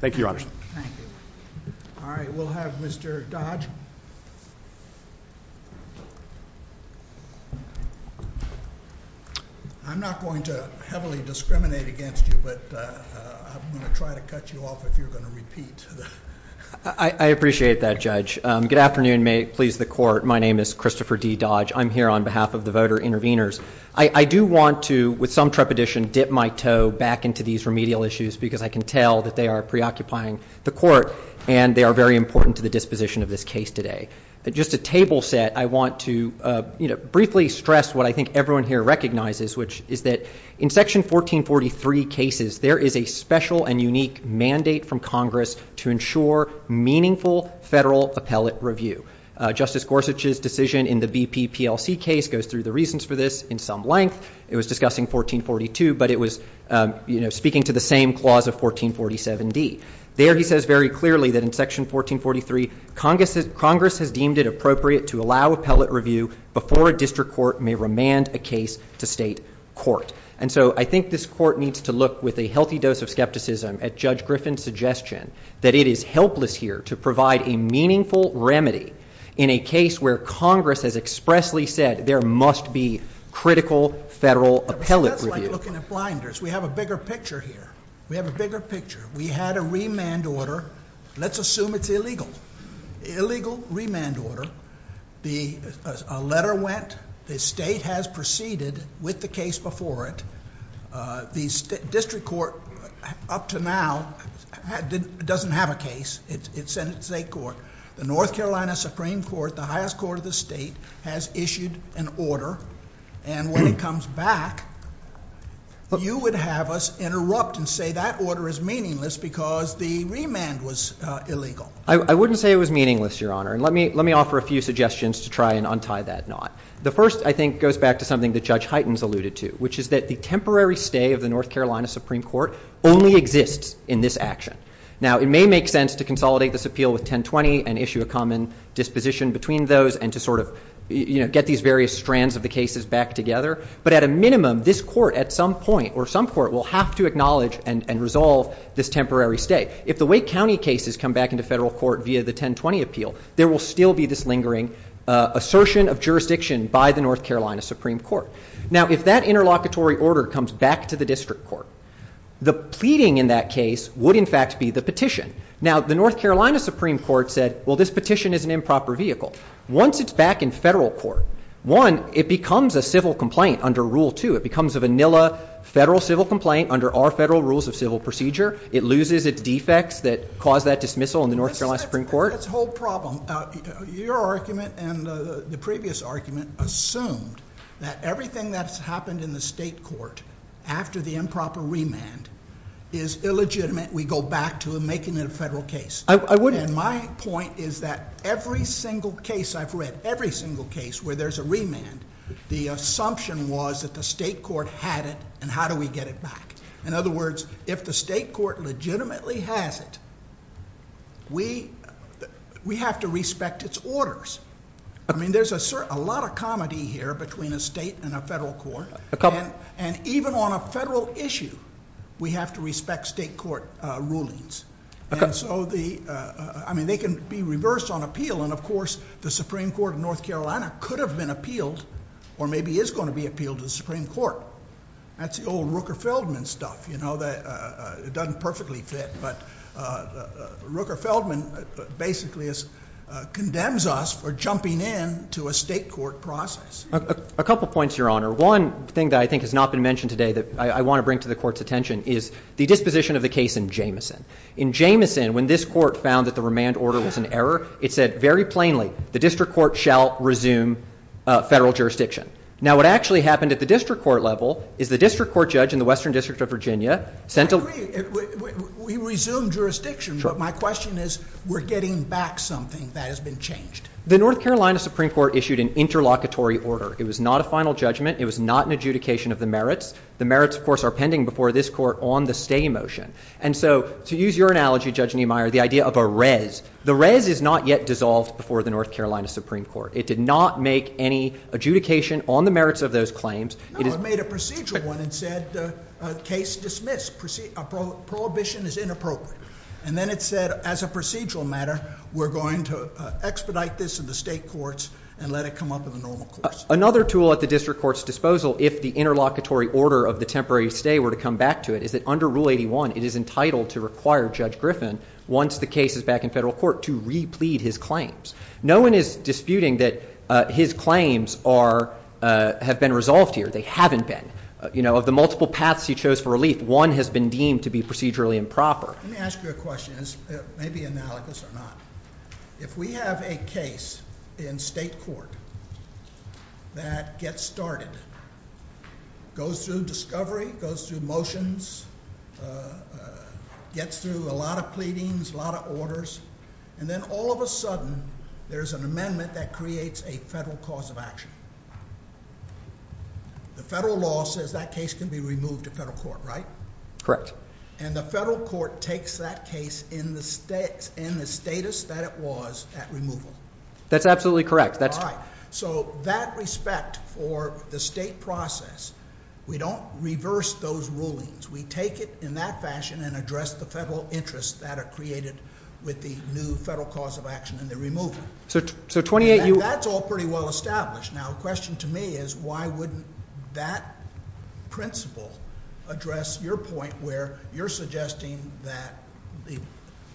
Thank you, Your Honor. Thank you. All right. We'll have Mr. Dodge. I'm not going to heavily discriminate against you, but I'm going to try to cut you off if you're going to repeat. I appreciate that, Judge. Good afternoon. May it please the Court. My name is Christopher D. Dodge. I'm here on behalf of the voter interveners. I do want to, with some trepidation, dip my toe back into these remedial issues, because I can tell that they are preoccupying the Court, and they are very important to the disposition of this case today. Just a table set, I want to briefly stress what I think everyone here recognizes, which is that in Section 1443 cases, there is a special and unique mandate from Congress to ensure meaningful federal appellate review. Justice Gorsuch's decision in the BP PLC case goes through the reasons for this in some length. It was discussing 1442, but it was speaking to the same clause of 1447d. There he says very clearly that in Section 1443, Congress has deemed it appropriate to allow appellate review before a district court may remand a case to state court. And so I think this Court needs to look, with a healthy dose of skepticism, at Judge Griffin's suggestion that it is helpless here to provide a meaningful remedy in a case where Congress has expressly said there must be critical federal appellate review. That's like looking at blinders. We have a bigger picture here. We have a bigger picture. We had a remand order. Let's assume it's illegal. Illegal remand order. A letter went. The state has proceeded with the case before it. The district court up to now doesn't have a case. It's in state court. The North Carolina Supreme Court, the highest court of the state, has issued an order. And when it comes back, you would have us interrupt and say that order is meaningless because the remand was illegal. I wouldn't say it was meaningless, Your Honor. And let me offer a few suggestions to try and untie that knot. The first, I think, goes back to something that Judge Hytens alluded to, which is that the temporary stay of the North Carolina Supreme Court only exists in this action. Now, it may make sense to consolidate this appeal with 1020 and issue a common disposition between those and to sort of get these various strands of the cases back together. But at a minimum, this court at some point or some court will have to acknowledge and resolve this temporary stay. If the Wake County cases come back into federal court via the 1020 appeal, there will still be this lingering assertion of jurisdiction by the North Carolina Supreme Court. Now, if that interlocutory order comes back to the district court, the pleading in that case would in fact be the petition. Now, the North Carolina Supreme Court said, well, this petition is an improper vehicle. Once it's back in federal court, one, it becomes a civil complaint under Rule 2. It becomes a vanilla federal civil complaint under all federal rules of civil procedure. It loses its defects that caused that dismissal in the North Carolina Supreme Court. That's the whole problem. Your argument and the previous argument assumed that everything that's happened in the state court after the improper remand is illegitimate. We go back to making it a federal case. I wouldn't. My point is that every single case I've read, every single case where there's a remand, the assumption was that the state court had it, and how do we get it back? In other words, if the state court legitimately has it, we have to respect its orders. I mean, there's a lot of comedy here between a state and a federal court. And even on a federal issue, we have to respect state court rulings. I mean, they can be reversed on appeal. And, of course, the Supreme Court of North Carolina could have been appealed or maybe is going to be appealed to the Supreme Court. That's the old Rooker-Feldman stuff. It doesn't perfectly fit. But Rooker-Feldman basically condemns us for jumping in to a state court process. A couple points, Your Honor. One thing that I think has not been mentioned today that I want to bring to the court's attention is the disposition of the case in Jameson. In Jameson, when this court found that the remand order was in error, it said very plainly, the district court shall resume federal jurisdiction. Now, what actually happened at the district court level is the district court judge in the Western District of Virginia sent a— We resumed jurisdiction, but my question is we're getting back something that has been changed. The North Carolina Supreme Court issued an interlocutory order. It was not a final judgment. It was not an adjudication of the merits. The merits, of course, are pending before this court on the stay motion. And so to use your analogy, Judge Niemeyer, the idea of a res, the res is not yet dissolved before the North Carolina Supreme Court. It did not make any adjudication on the merits of those claims. No, it made a procedural one and said case dismissed. Prohibition is inappropriate. And then it said as a procedural matter, we're going to expedite this in the state courts and let it come up in the normal courts. Another tool at the district court's disposal, if the interlocutory order of the temporary stay were to come back to it, is that under Rule 81 it is entitled to require Judge Griffin, once the case is back in federal court, to replead his claims. No one is disputing that his claims have been resolved here. They haven't been. Of the multiple paths he chose for relief, one has been deemed to be procedurally improper. Let me ask you a question, maybe analogous or not. If we have a case in state court that gets started, goes through discovery, goes through motions, gets through a lot of pleadings, a lot of orders, and then all of a sudden there's an amendment that creates a federal cause of action. The federal law says that case can be removed to federal court, right? Correct. And the federal court takes that case in the status that it was at removal. That's absolutely correct. So that respect for the state process, we don't reverse those rulings. We take it in that fashion and address the federal interests that are created with the new federal cause of action and the removal. That's all pretty well established. Now, the question to me is why would that principle address your point where you're suggesting that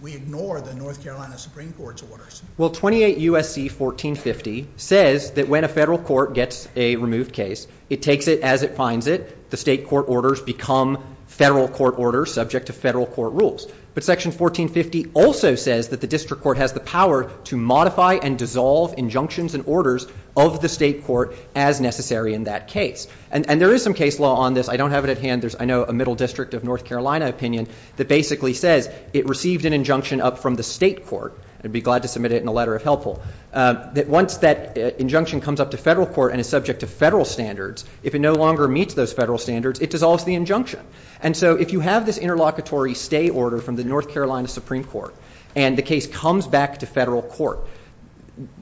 we ignore the North Carolina Supreme Court's orders? Well, 28 U.S.C. 1450 says that when a federal court gets a removed case, it takes it as it finds it. The state court orders become federal court orders subject to federal court rules. But Section 1450 also says that the district court has the power to modify and dissolve injunctions and orders of the state court as necessary in that case. And there is some case law on this. I don't have it at hand. There's, I know, a Middle District of North Carolina opinion that basically says it received an injunction up from the state court, and I'd be glad to submit it in a letter if helpful, that once that injunction comes up to federal court and is subject to federal standards, if it no longer meets those federal standards, it dissolves the injunction. And so if you have this interlocutory stay order from the North Carolina Supreme Court and the case comes back to federal court,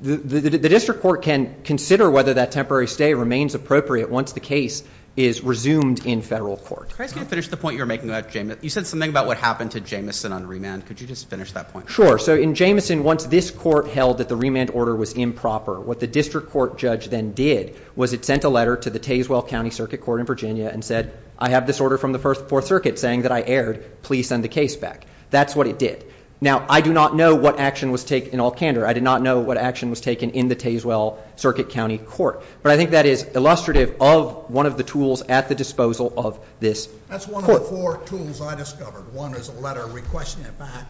the district court can consider whether that temporary stay remains appropriate once the case is resumed in federal court. Can I finish the point you were making about Jamison? You said something about what happened to Jamison on remand. Could you just finish that point? Sure. So in Jamison, once this court held that the remand order was improper, what the district court judge then did was it sent a letter to the Tazewell County Circuit Court in Virginia and said, I have this order from the First and Fourth Circuit saying that I erred. Please send the case back. That's what it did. Now, I do not know what action was taken in Alcantara. I did not know what action was taken in the Tazewell Circuit County Court. But I think that is illustrative of one of the tools at the disposal of this court. That's one of the four tools I discovered. One is a letter requesting it back.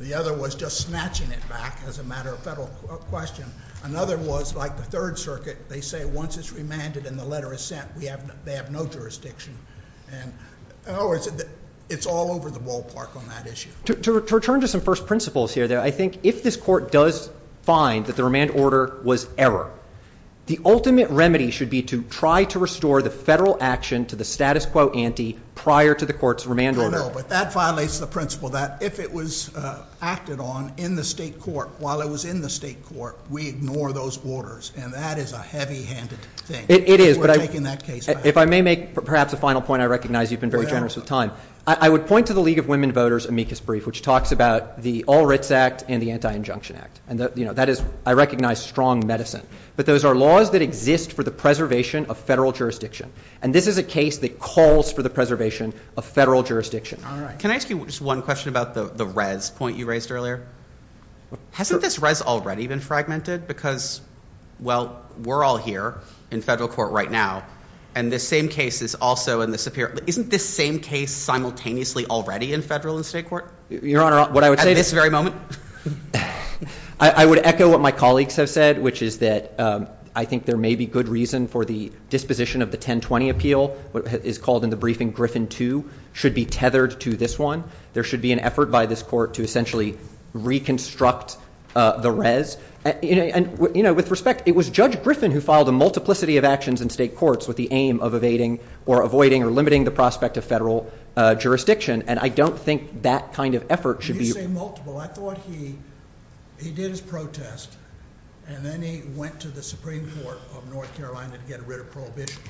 The other was just snatching it back as a matter of federal question. Another was like the Third Circuit. They say once it's remanded and the letter is sent, they have no jurisdiction. And it's all over the ballpark on that issue. To return to some first principles here, I think if this court does find that the remand order was error, the ultimate remedy should be to try to restore the federal action to the status quo ante prior to the court's remand order. No, no. But that violates the principle that if it was acted on in the state court while it was in the state court, we ignore those orders. And that is a heavy-handed thing. It is. If I may make perhaps a final point, I recognize you've been very generous with time. I would point to the League of Women Voters' amicus brief, which talks about the All Writs Act and the Anti-Injunction Act. I recognize strong medicine. But those are laws that exist for the preservation of federal jurisdiction. And this is a case that calls for the preservation of federal jurisdiction. Can I ask you just one question about the res point you raised earlier? Hasn't this res already been fragmented? Because, well, we're all here in federal court right now. And the same case is also in the superior. Isn't this same case simultaneously already in federal and state court? Your Honor, what I would say at this very moment, I would echo what my colleagues have said, which is that I think there may be good reason for the disposition of the 1020 appeal, what is called in the briefing Griffin II, should be tethered to this one. There should be an effort by this court to essentially reconstruct the res. With respect, it was Judge Griffin who filed a multiplicity of actions in state courts with the aim of evading or avoiding or limiting the prospect of federal jurisdiction. And I don't think that kind of effort should be used. You say multiple. I thought he did his protest. And then he went to the Supreme Court of North Carolina to get rid of Prohibition.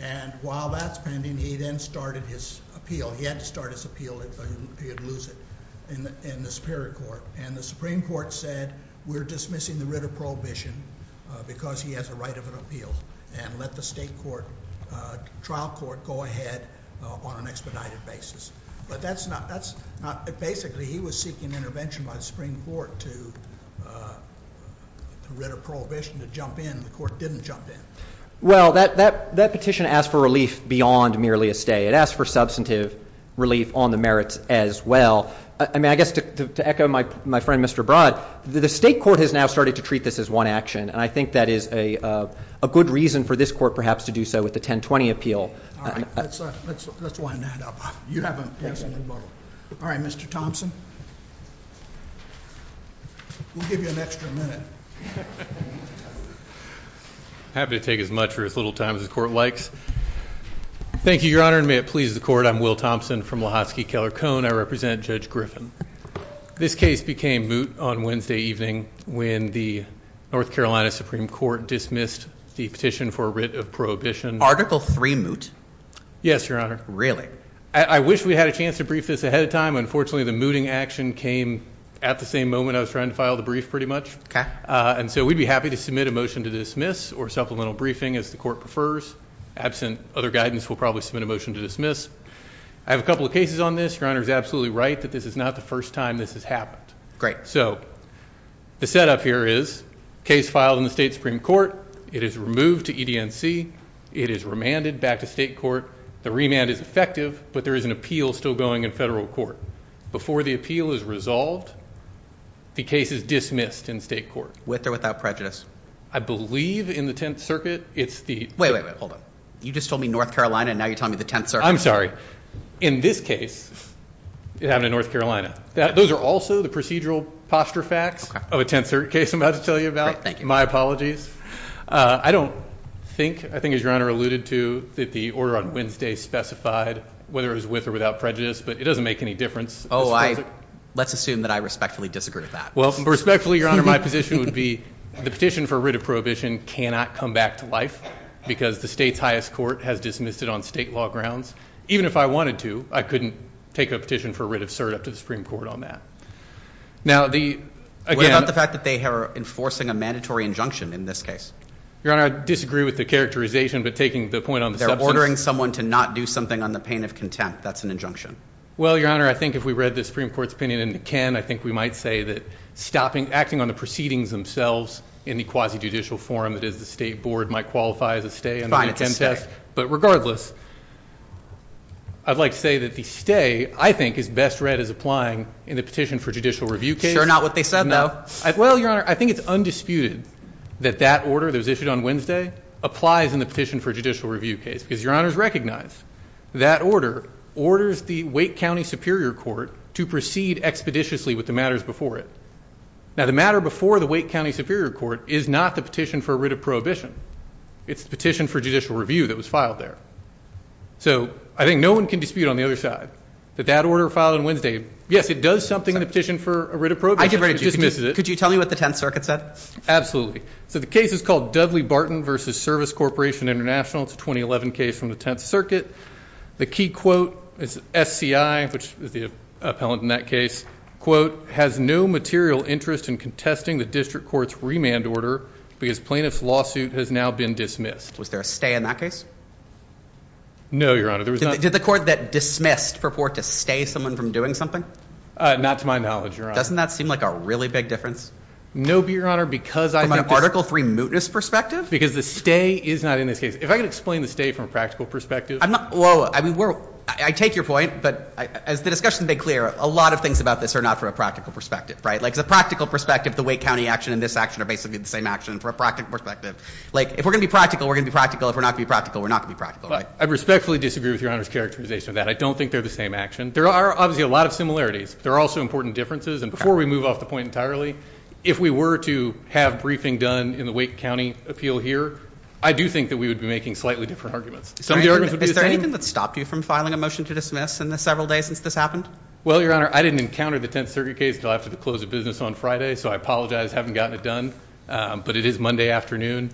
And while that's pending, he then started his appeal. He had to start his appeal in the Superior Court. And the Supreme Court said we're dismissing the writ of Prohibition because he has the right of an appeal and let the state trial court go ahead on an expedited basis. But basically he was seeking intervention by the Supreme Court to writ of Prohibition to jump in. The court didn't jump in. Well, that petition asked for relief beyond merely a stay. It asked for substantive relief on the merits as well. I mean, I guess to echo my friend Mr. Broad, the state court has now started to treat this as one action. And I think that is a good reason for this court perhaps to do so with the 1020 appeal. All right. Let's wind that up. You have a question? All right, Mr. Thompson. We'll give you an extra minute. I have to take as much or as little time as the court likes. Thank you, Your Honor. And may it please the court, I'm Will Thompson from Lahotsky Keller Cone. I represent Judge Griffin. This case became moot on Wednesday evening when the North Carolina Supreme Court dismissed the petition for writ of Prohibition. Article 3 moot? Yes, Your Honor. Really? I wish we had a chance to brief this ahead of time. Unfortunately, the mooting action came at the same moment I was trying to file the brief pretty much. And so we'd be happy to submit a motion to dismiss or supplemental briefing as the court prefers. Absent other guidance we'll probably submit a motion to dismiss. I have a couple of cases on this. Your Honor is absolutely right that this is not the first time this has happened. So the setup here is case filed in the state Supreme Court. It is removed to EDNC. It is remanded back to state court. The remand is effective, but there is an appeal still going in federal court. Before the appeal is resolved, the case is dismissed in state court. With or without prejudice? I believe in the Tenth Circuit it's the – Wait, wait, wait. Hold on. You just told me North Carolina and now you're telling me the Tenth Circuit. I'm sorry. In this case, it happened in North Carolina. Those are also the procedural posture facts of a Tenth Circuit case I'm about to tell you about. My apologies. I don't think, I think as Your Honor alluded to, that the order on Wednesday specified whether it was with or without prejudice. But it doesn't make any difference. Oh, I – let's assume that I respectfully disagree with that. Well, respectfully, Your Honor, my position would be the petition for writ of prohibition cannot come back to life because the state's highest court has dismissed it on state law grounds. Even if I wanted to, I couldn't take a petition for writ of cert up to the Supreme Court on that. Now, the – What about the fact that they are enforcing a mandatory injunction in this case? Your Honor, I disagree with the characterization, but taking the point on – They're ordering someone to not do something on the pain of contempt. That's an injunction. Well, Your Honor, I think if we read the Supreme Court's opinion in the Ken, I think we might say that acting on the proceedings themselves in the quasi-judicial forum that is the state board might qualify as a stay in the contempt act. But regardless, I'd like to say that the stay, I think, is best read as applying in the petition for judicial review case. They're not what they said, though. Well, Your Honor, I think it's undisputed that that order that was issued on Wednesday applies in the petition for judicial review case because Your Honor has recognized that order orders the Wake County Superior Court to proceed expeditiously with the matters before it. Now, the matter before the Wake County Superior Court is not the petition for writ of prohibition. It's the petition for judicial review that was filed there. So I think no one can dispute on the other side that that order filed on Wednesday – Yes, it does something in the petition for a writ of prohibition. I disagree. Could you tell me what the Tenth Circuit said? Absolutely. So the case is called Dudley-Barton v. Service Corporation International. It's a 2011 case from the Tenth Circuit. The key quote is SCI, which is the appellant in that case, has no material interest in contesting the district court's remand order because plaintiff's lawsuit has now been dismissed. Was there a stay in that case? No, Your Honor. There was not – Did the court that dismissed purport to stay someone from doing something? Not to my knowledge, Your Honor. Doesn't that seem like a really big difference? No, Your Honor, because – From an Article III mootness perspective? Because the stay is not in this case. If I could explain the stay from a practical perspective – I'm not – well, I mean, we're – I take your point, but as the discussion has been clear, a lot of things about this are not from a practical perspective, right? Like, the practical perspective, the Wake County action and this action are basically the same action from a practical perspective. Like, if we're going to be practical, we're going to be practical. If we're not going to be practical, we're not going to be practical, right? I respectfully disagree with Your Honor's characterization of that. I don't think they're the same action. There are obviously a lot of similarities. There are also important differences. And before we move off the point entirely, if we were to have briefing done in the Wake County appeal here, I do think that we would be making slightly different arguments. Some of the arguments would be the same. Is there anything that stopped you from filing a motion to dismiss in the several days since this happened? Well, Your Honor, I didn't encounter the 10th Circuit case until after the close of business on Friday, so I apologize. I haven't gotten it done, but it is Monday afternoon.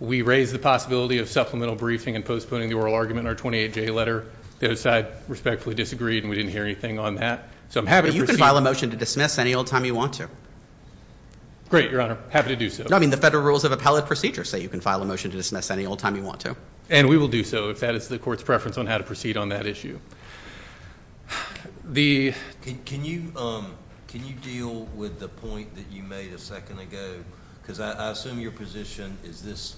We raised the possibility of supplemental briefing and postponing the oral argument in our 28-J letter. The other side respectfully disagreed, and we didn't hear anything on that. So I'm happy to proceed. You can file a motion to dismiss any old time you want to. Great, Your Honor. Happy to do so. No, I mean, the Federal Rules of Appellate Procedure say you can file a motion to dismiss any old time you want to. And we will do so if that is the Court's preference on how to proceed on that issue. Can you deal with the point that you made a second ago? Because I assume your position is this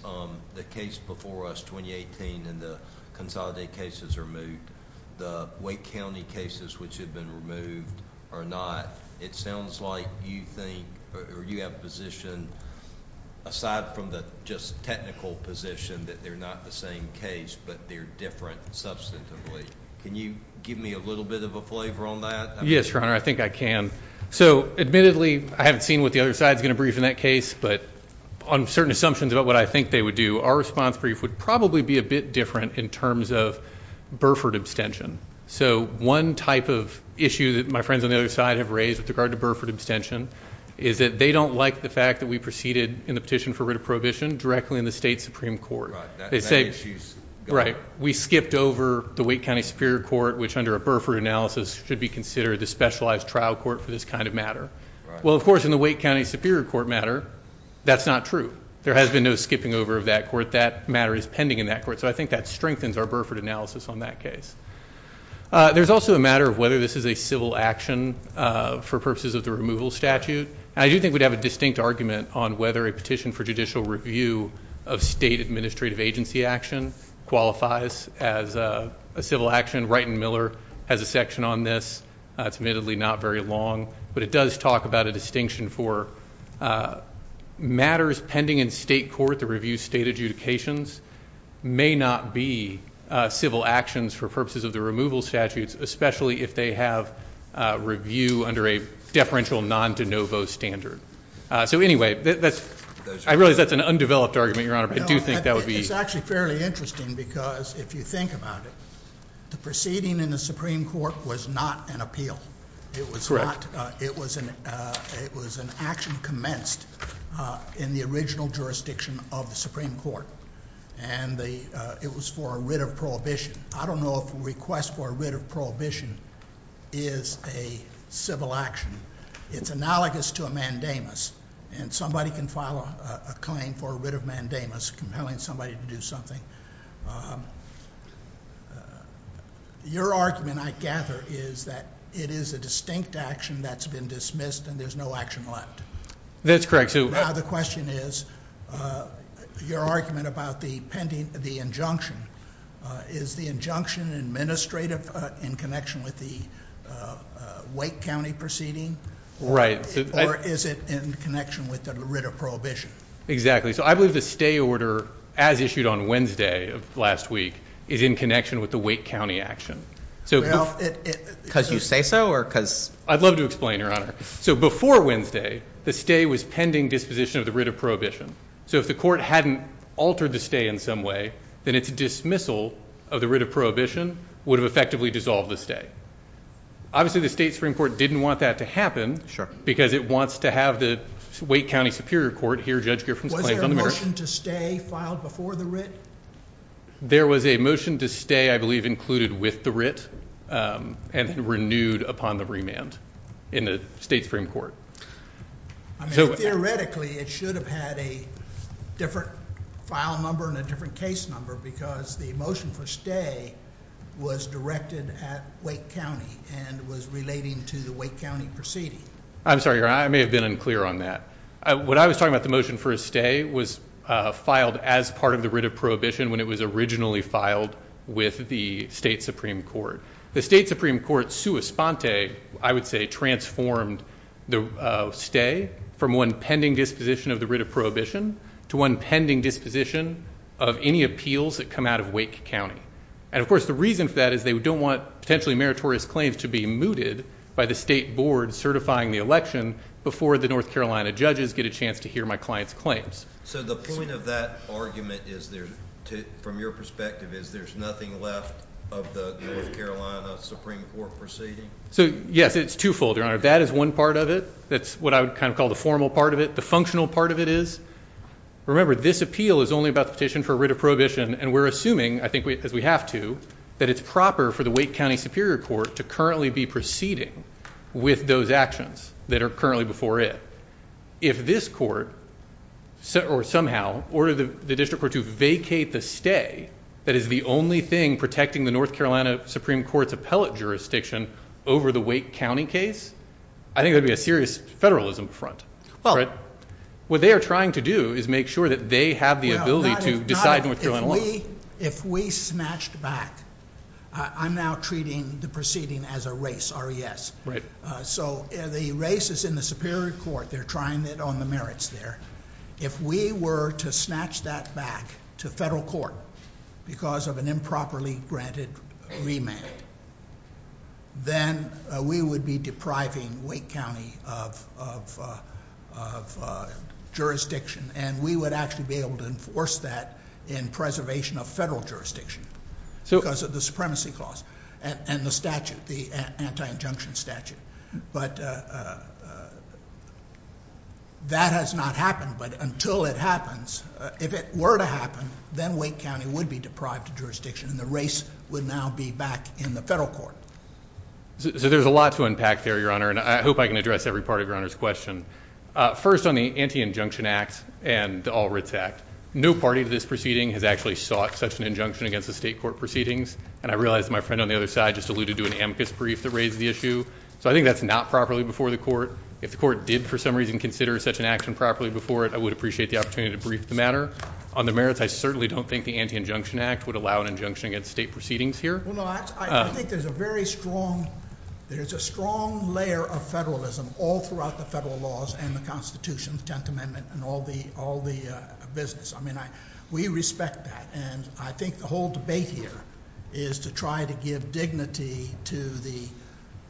the case before us, 2018, and the Consolidated cases are moved. The Wake County cases, which have been removed, are not. It sounds like you have a position, aside from the just technical position, that they're not the same case, but they're different substantively. Can you give me a little bit of a flavor on that? Yes, Your Honor, I think I can. So, admittedly, I haven't seen what the other side is going to brief in that case, but on certain assumptions about what I think they would do, our response brief would probably be a bit different in terms of Burford abstention. So one type of issue that my friends on the other side have raised with regard to Burford abstention is that they don't like the fact that we proceeded in the petition for writ of prohibition directly in the state Supreme Court. Right, that issue's gone. Right, we skipped over the Wake County Superior Court, which under a Burford analysis should be considered the specialized trial court for this kind of matter. Well, of course, in the Wake County Superior Court matter, that's not true. There has been no skipping over of that court. That matter is pending in that court, so I think that strengthens our Burford analysis on that case. There's also the matter of whether this is a civil action for purposes of the removal statute, and I do think we'd have a distinct argument on whether a petition for judicial review of state administrative agency action, qualifies as a civil action. Wright and Miller has a section on this, admittedly not very long, but it does talk about a distinction for matters pending in state court to review state adjudications may not be civil actions for purposes of the removal statute, especially if they have review under a deferential non-de novo standard. So anyway, I realize that's an undeveloped argument, Your Honor, but I do think that would be It's actually fairly interesting because if you think about it, the proceeding in the Supreme Court was not an appeal. It was an action commenced in the original jurisdiction of the Supreme Court, and it was for a writ of prohibition. I don't know if a request for a writ of prohibition is a civil action. It's analogous to a mandamus, and somebody can file a claim for a writ of mandamus compelling somebody to do something. Your argument, I gather, is that it is a distinct action that's been dismissed and there's no action like it. That's correct. So now the question is, your argument about the injunction, is the injunction administrative in connection with the Wake County proceeding? Or is it in connection with the writ of prohibition? Exactly. So I believe the stay order, as issued on Wednesday of last week, is in connection with the Wake County action. Well, because you say so? I'd love to explain, Your Honor. So before Wednesday, the stay was pending disposition of the writ of prohibition. So if the court hadn't altered the stay in some way, then its dismissal of the writ of prohibition would have effectively dissolved the stay. Obviously, the State Supreme Court didn't want that to happen because it wants to have the Wake County Superior Court hear Judge Gifford's claim. Was there a motion to stay filed before the writ? There was a motion to stay, I believe, included with the writ and renewed upon the remand in the State Supreme Court. Theoretically, it should have had a different file number and a different case number because the motion for stay was directed at Wake County and was relating to the Wake County proceeding. I'm sorry, Your Honor. I may have been unclear on that. What I was talking about, the motion for a stay, was filed as part of the writ of prohibition when it was originally filed with the State Supreme Court. The State Supreme Court, sua sponte, I would say transformed the stay from one pending disposition of the writ of prohibition to one pending disposition of any appeals that come out of Wake County. And, of course, the reason for that is they don't want potentially meritorious claims to be mooted by the State Board certifying the election before the North Carolina judges get a chance to hear my client's claims. So the point of that argument is there, from your perspective, is there's nothing left of the North Carolina Supreme Court proceeding? So, yes, it's twofold, Your Honor. That is one part of it. That's what I would kind of call the formal part of it. The functional part of it is, remember, this appeal is only about the petition for writ of prohibition. And we're assuming, I think we have to, that it's proper for the Wake County Superior Court to currently be proceeding with those actions that are currently before it. If this court, or somehow, ordered the district court to vacate the stay that is the only thing protecting the North Carolina Supreme Court's appellate jurisdiction over the Wake County case, I think there would be a serious federalism front. What they are trying to do is make sure that they have the ability to decide what they're going to do. If we snatched back, I'm now treating the proceeding as a race, R-E-S. So, the race is in the Superior Court. They're trying it on the merits there. If we were to snatch that back to federal court because of an improperly granted remand, then we would be depriving Wake County of jurisdiction. And we would actually be able to enforce that in preservation of federal jurisdiction because of the supremacy clause and the statute, the anti-injunction statute. But that has not happened. But until it happens, if it were to happen, then Wake County would be deprived of jurisdiction and the race would now be back in the federal court. So, there's a lot to unpack there, Your Honor. And I hope I can address every part of Your Honor's question. First, on the Anti-Injunction Act and the All Writs Act, no party to this proceeding has actually sought such an injunction against the state court proceedings. And I realize my friend on the other side just alluded to an amicus brief that raised the issue. So, I think that's not properly before the court. If the court did, for some reason, consider such an action properly before it, I would appreciate the opportunity to brief the matter. On the merits, I certainly don't think the Anti-Injunction Act would allow an injunction against state proceedings here. Well, no, I think there's a very strong, there's a strong layer of federalism all throughout the federal laws and the Constitution, the Tenth Amendment, and all the business. I mean, we respect that. And I think the whole debate here is to try to give dignity to the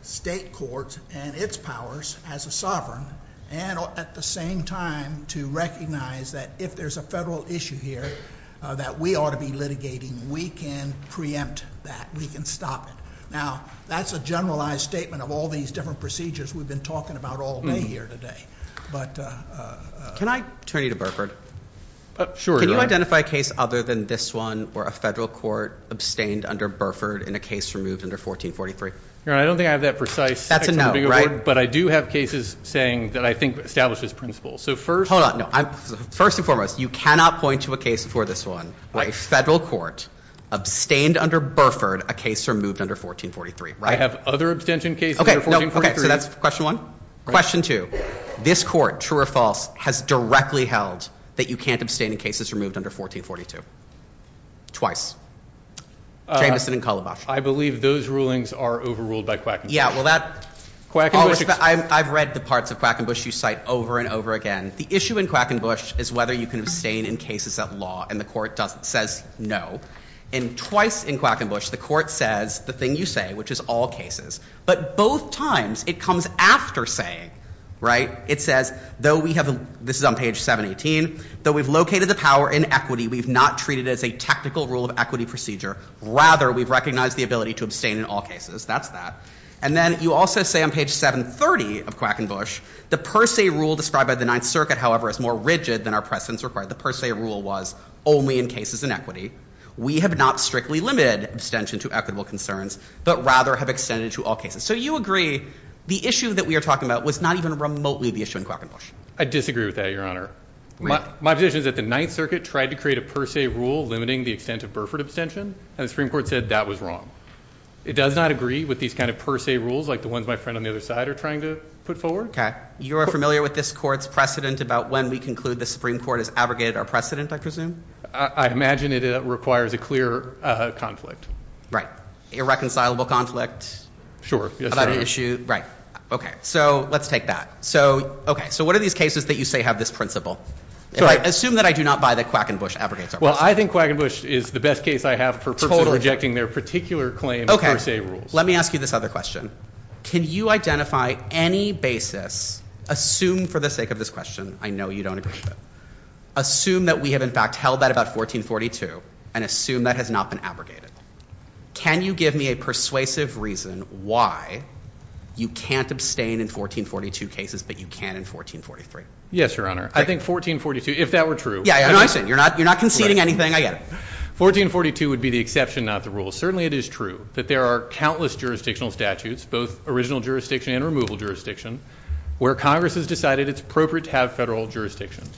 state courts and its powers as a sovereign, and at the same time, to recognize that if there's a federal issue here, that we ought to be litigating. We can preempt that. We can stop it. Now, that's a generalized statement of all these different procedures we've been talking about all day here today. But, can I turn you to Burford? Sure, Your Honor. Can you identify a case other than this one where a federal court abstained under Burford in a case removed under 1443? Your Honor, I don't think I have that precise statement of order. But I do have cases saying that I think establishes principle. Hold on. First and foremost, you cannot point to a case before this one where a federal court abstained under Burford a case removed under 1443, right? I have other abstention cases under 1443. Okay, so that's question one. Question two. This court, true or false, has directly held that you can't abstain in cases removed under 1442. Twice. I believe those rulings are overruled by Quackenbush. I've read the parts of Quackenbush you cite over and over again. The issue in Quackenbush is whether you can abstain in cases that law, and the court says no. And twice in Quackenbush, the court says the thing you say, which is all cases. But both times, it comes after saying, right? It says, though we have, this is on page 718, though we've located the power in equity, we've not treated it as a technical rule of equity procedure. Rather, we've recognized the ability to abstain in all cases. That's that. And then you also say on page 730 of Quackenbush, the per se rule described by the Ninth Circuit, however, is more rigid than our precedence required. The per se rule was only in cases in equity. We have not strictly limited abstention to equitable concerns, but rather have extended to all cases. So you agree the issue that we are talking about was not even remotely the issue in Quackenbush. I disagree with that, Your Honor. My position is that the Ninth Circuit tried to create a per se rule limiting the extent of Burford abstention, and the Supreme Court said that was wrong. It does not agree with these kind of per se rules like the ones my friend on the other side are trying to put forward. Okay. You are familiar with this court's precedent about when we conclude the Supreme Court has abrogated our precedent, I presume? I imagine it requires a clear conflict. Irreconcilable conflict? About an issue? Right. Okay. So let's take that. So what are these cases that you say have this principle? Assume that I do not buy the Quackenbush abrogation. Well, I think Quackenbush is the best case I have for rejecting their particular claim of per se rules. Okay. Let me ask you this other question. Can you identify any basis, assume for the sake of this question, I know you don't agree with it, assume that we have in fact held that about 1442 and assume that has not been abrogated. Can you give me a persuasive reason why you can't abstain in 1442 cases but you can in 1443? Yes, Your Honor. I think 1442, if that were true. Yeah, I understand. You're not conceding anything? I get it. 1442 would be the exception, not the rule. Certainly it is true that there are countless jurisdictional statutes, both original jurisdiction and removal jurisdiction, where Congress has decided it's appropriate to have federal jurisdictions.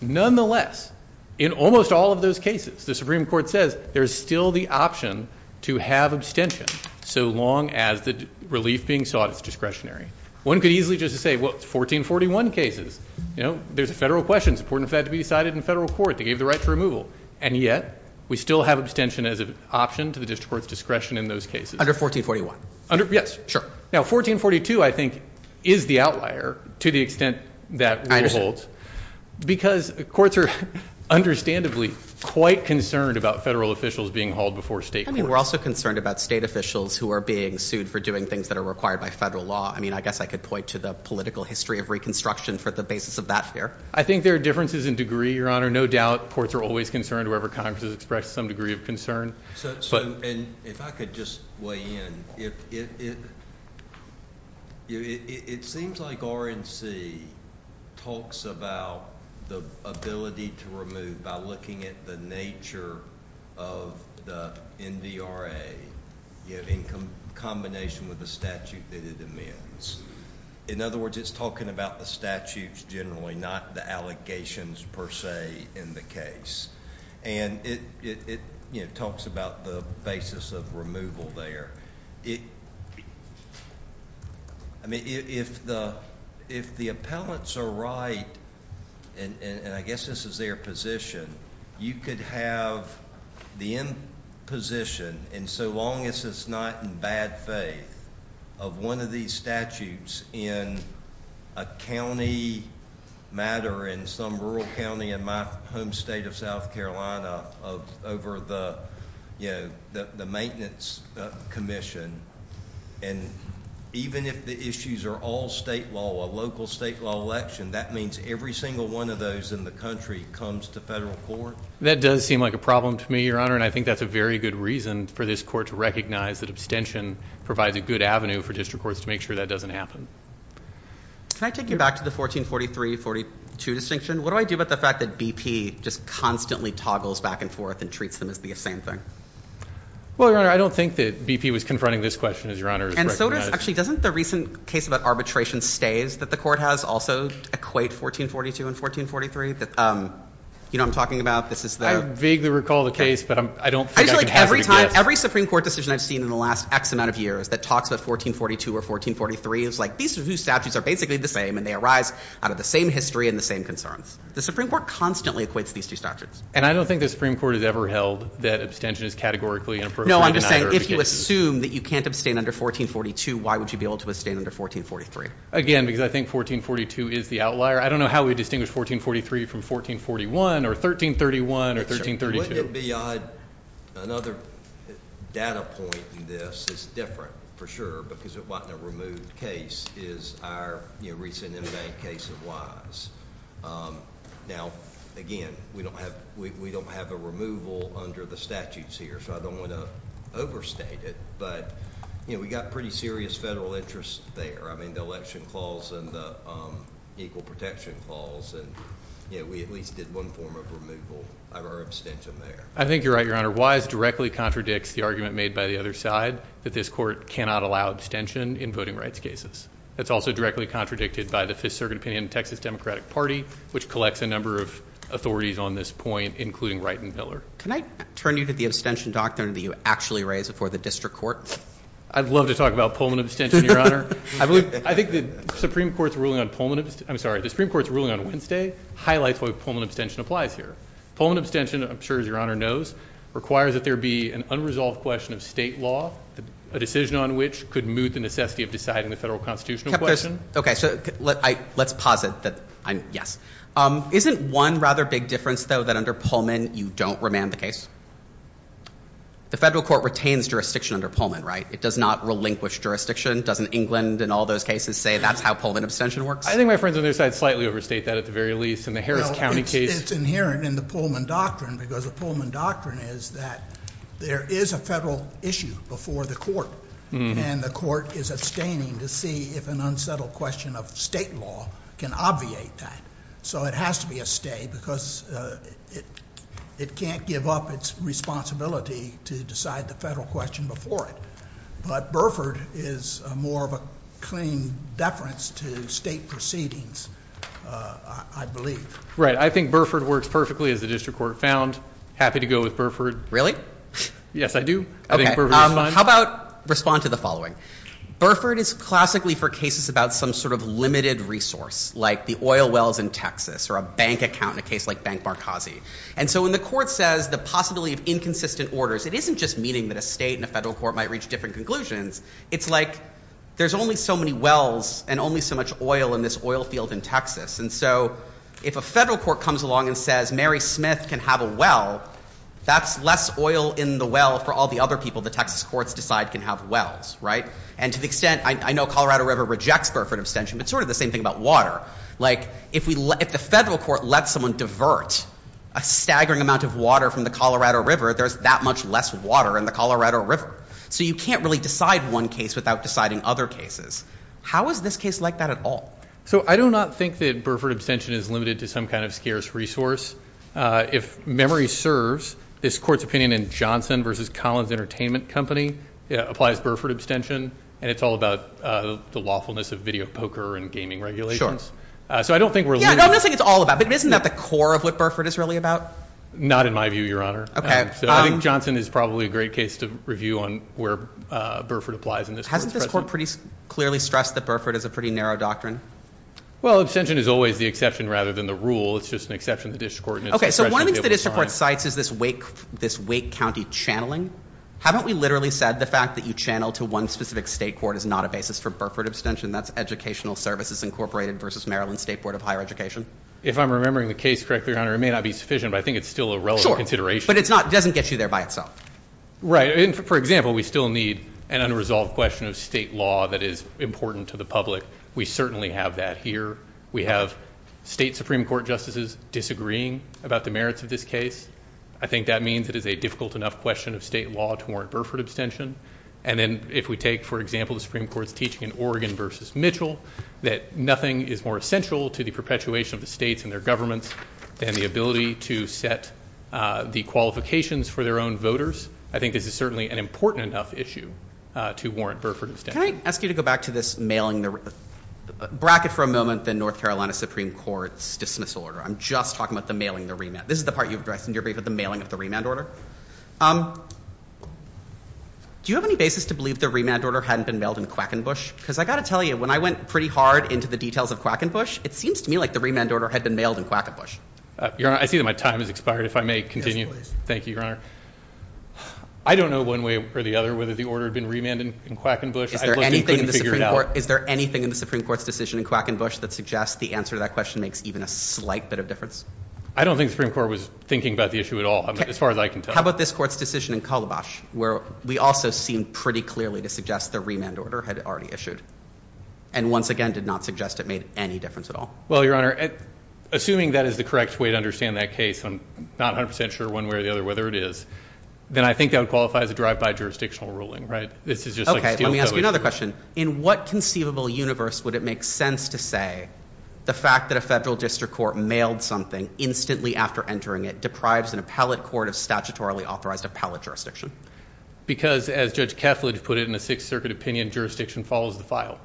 Nonetheless, in almost all of those cases, the Supreme Court says there's still the option to have abstention so long as the relief being sought is discretionary. One could easily just say, well, it's 1441 cases. You know, there's a federal question. It's important for that to be decided in federal court. They gave the right to removal. And yet, we still have abstention as an option to the district court's discretion in those cases. Under 1441? Yes, sure. Now, 1442, I think, is the outlier to the extent that it holds. Because courts are, understandably, quite concerned about federal officials being hauled before state courts. I mean, we're also concerned about state officials who are being sued for doing things that are required by federal law. I mean, I guess I could point to the political history of reconstruction for the basis of that here. I think there are differences in degree, Your Honor. No doubt courts are always concerned wherever Congress has expressed some degree of concern. If I could just weigh in. It seems like RNC talks about the ability to remove by looking at the nature of the NDRA in combination with the statute that it amends. In other words, it's talking about the statutes generally, not the allegations per se in the case. And it talks about the basis of removal there. I mean, if the appellants are right, and I guess this is their position, you could have the imposition, and so long as it's not in bad faith, of one of these statutes in a county matter in some rural county in my home state of South Carolina over the maintenance commission, and even if the issues are all state law, a local state law election, that means every single one of those in the country comes to federal court? That does seem like a problem to me, Your Honor, and I think that's a very good reason for this court to recognize that abstention provides a good avenue for district courts to make sure that doesn't happen. Can I take you back to the 1443-42 distinction? What do I do about the fact that BP just constantly toggles back and forth and treats them as the same thing? Well, Your Honor, I don't think that BP was confronting this question, as Your Honor has recognized. Actually, doesn't the recent case about arbitration stays that the court has also equate 1442 and 1443? You know what I'm talking about? I vaguely recall the case, but I don't think I can have it again. I feel like every Supreme Court decision I've seen in the last X amount of years that talks about 1442 or 1443 is like, these are two statutes that are basically the same, and they arise out of the same history and the same concerns. The Supreme Court constantly equates these two statutes. And I don't think the Supreme Court has ever held that abstention is categorically inappropriate. No, I'm just saying, if you assume that you can't abstain under 1442, why would you be able to abstain under 1443? Again, because I think 1442 is the outlier. I don't know how we distinguish 1443 from 1441 or 1331 or 1332. Another data point in this is different, for sure, because what the removed case is our recent case of lines. Now, again, we don't have a removal under the statutes here, so I don't want to overstate it, but, you know, we've got pretty serious federal interests there. I mean, the election calls and the equal protection calls, and, you know, we at least did one form of removal of our abstention there. I think you're right, Your Honor. Wise directly contradicts the argument made by the other side that this Court cannot allow abstention in voting rights cases. That's also directly contradicted by the Fifth Circuit opinion of the Texas Democratic Party, which collects a number of authorities on this point, including Wright and Miller. Can I turn you to the abstention doctrine that you actually raised before the district court? I'd love to talk about Pullman abstention, Your Honor. I think the Supreme Court's ruling on Wednesday highlights what Pullman abstention applies here. Pullman abstention, I'm sure as Your Honor knows, requires that there be an unresolved question of state law, a decision on which could move the necessity of deciding the federal constitutional question. Okay. So let's posit that yes. Isn't one rather big difference, though, that under Pullman you don't remand the case? The federal court retains jurisdiction under Pullman, right? It does not relinquish jurisdiction. Doesn't England in all those cases say that's how Pullman abstention works? I think my friends on the other side slightly overstate that at the very least. It's inherent in the Pullman doctrine because the Pullman doctrine is that there is a federal issue before the court, and the court is abstaining to see if an unsettled question of state law can obviate that. So it has to be a stay because it can't give up its responsibility to decide the federal question before it. But Burford is more of a claim deference to state proceedings, I believe. Right. I think Burford works perfectly as the district court found. Happy to go with Burford. Yes, I do. Okay. How about respond to the following? Burford is classically for cases about some sort of limited resource like the oil wells in Texas or a bank account in a case like Bank Markazi. And so when the court says the possibility of inconsistent orders, it isn't just meaning that a state and a federal court might reach different conclusions. It's like there's only so many wells and only so much oil in this oil field in Texas. And so if a federal court comes along and says Mary Smith can have a well, that's less oil in the well for all the other people the Texas courts decide can have wells. Right. And to the extent, I know Colorado River rejects Burford abstention, but sort of the same thing about water. Like if the federal court lets someone divert a staggering amount of water from the Colorado River, there's that much less water in the Colorado River. So you can't really decide one case without deciding other cases. How is this case like that at all? So I do not think that Burford abstention is limited to some kind of scarce resource. If memory serves, this court's opinion in Johnson v. Collins Entertainment Company applies Burford abstention. And it's all about the lawfulness of video poker and gaming regulations. So I don't think we're limited to that. Yeah, I don't think it's all about that. But isn't that the core of what Burford is really about? Not in my view, Your Honor. Okay. So I think Johnson is probably a great case to review on where Burford applies in this case. Hasn't the court pretty clearly stressed that Burford is a pretty narrow doctrine? Well, abstention is always the exception rather than the rule. It's just an exception to the district court. Okay. So one of the things the district court cites is this Wake County channeling. Haven't we literally said the fact that you channel to one specific state court is not a basis for Burford abstention? That's Educational Services Incorporated v. Maryland State Board of Higher Education. If I'm remembering the case correctly, Your Honor, it may not be sufficient, but I think it's still a relevant consideration. But it doesn't get you there by itself. Right. For example, we still need an unresolved question of state law that is important to the public. We certainly have that here. We have state Supreme Court justices disagreeing about the merits of this case. I think that means it is a difficult enough question of state law to warrant Burford abstention. And then if we take, for example, the Supreme Court's teaching in Oregon v. Mitchell, that nothing is more essential to the perpetuation of the states and their governments than the ability to set the qualifications for their own voters. I think it is certainly an important enough issue to warrant Burford abstention. Can I ask you to go back to this mailing bracket for a moment, the North Carolina Supreme Court's dismissal order? I'm just talking about the mailing of the remand. This is the part you addressed in your brief, the mailing of the remand order. Do you have any basis to believe the remand order hadn't been mailed in Quackenbush? Because I've got to tell you, when I went pretty hard into the details of Quackenbush, it seems to me like the remand order had been mailed in Quackenbush. Your Honor, I see that my time has expired. If I may continue. Thank you, Your Honor. I don't know one way or the other whether the order had been remanded in Quackenbush. Is there anything in the Supreme Court's decision in Quackenbush that suggests the answer to that question makes even a slight bit of difference? I don't think the Supreme Court was thinking about the issue at all, as far as I can tell. How about this Court's decision in Calabash, where we also seem pretty clearly to suggest the remand order had already issued, and once again did not suggest it made any difference at all? Well, Your Honor, assuming that is the correct way to understand that case, I'm not 100% sure one way or the other whether it is, then I think that would qualify as a drive-by jurisdictional ruling, right? Okay, let me ask you another question. In what conceivable universe would it make sense to say the fact that a federal district court mailed something instantly after entering it deprives an appellate court of statutorily authorized appellate jurisdiction? Because, as Judge Kessler put it in the Sixth Circuit opinion, jurisdiction follows the file.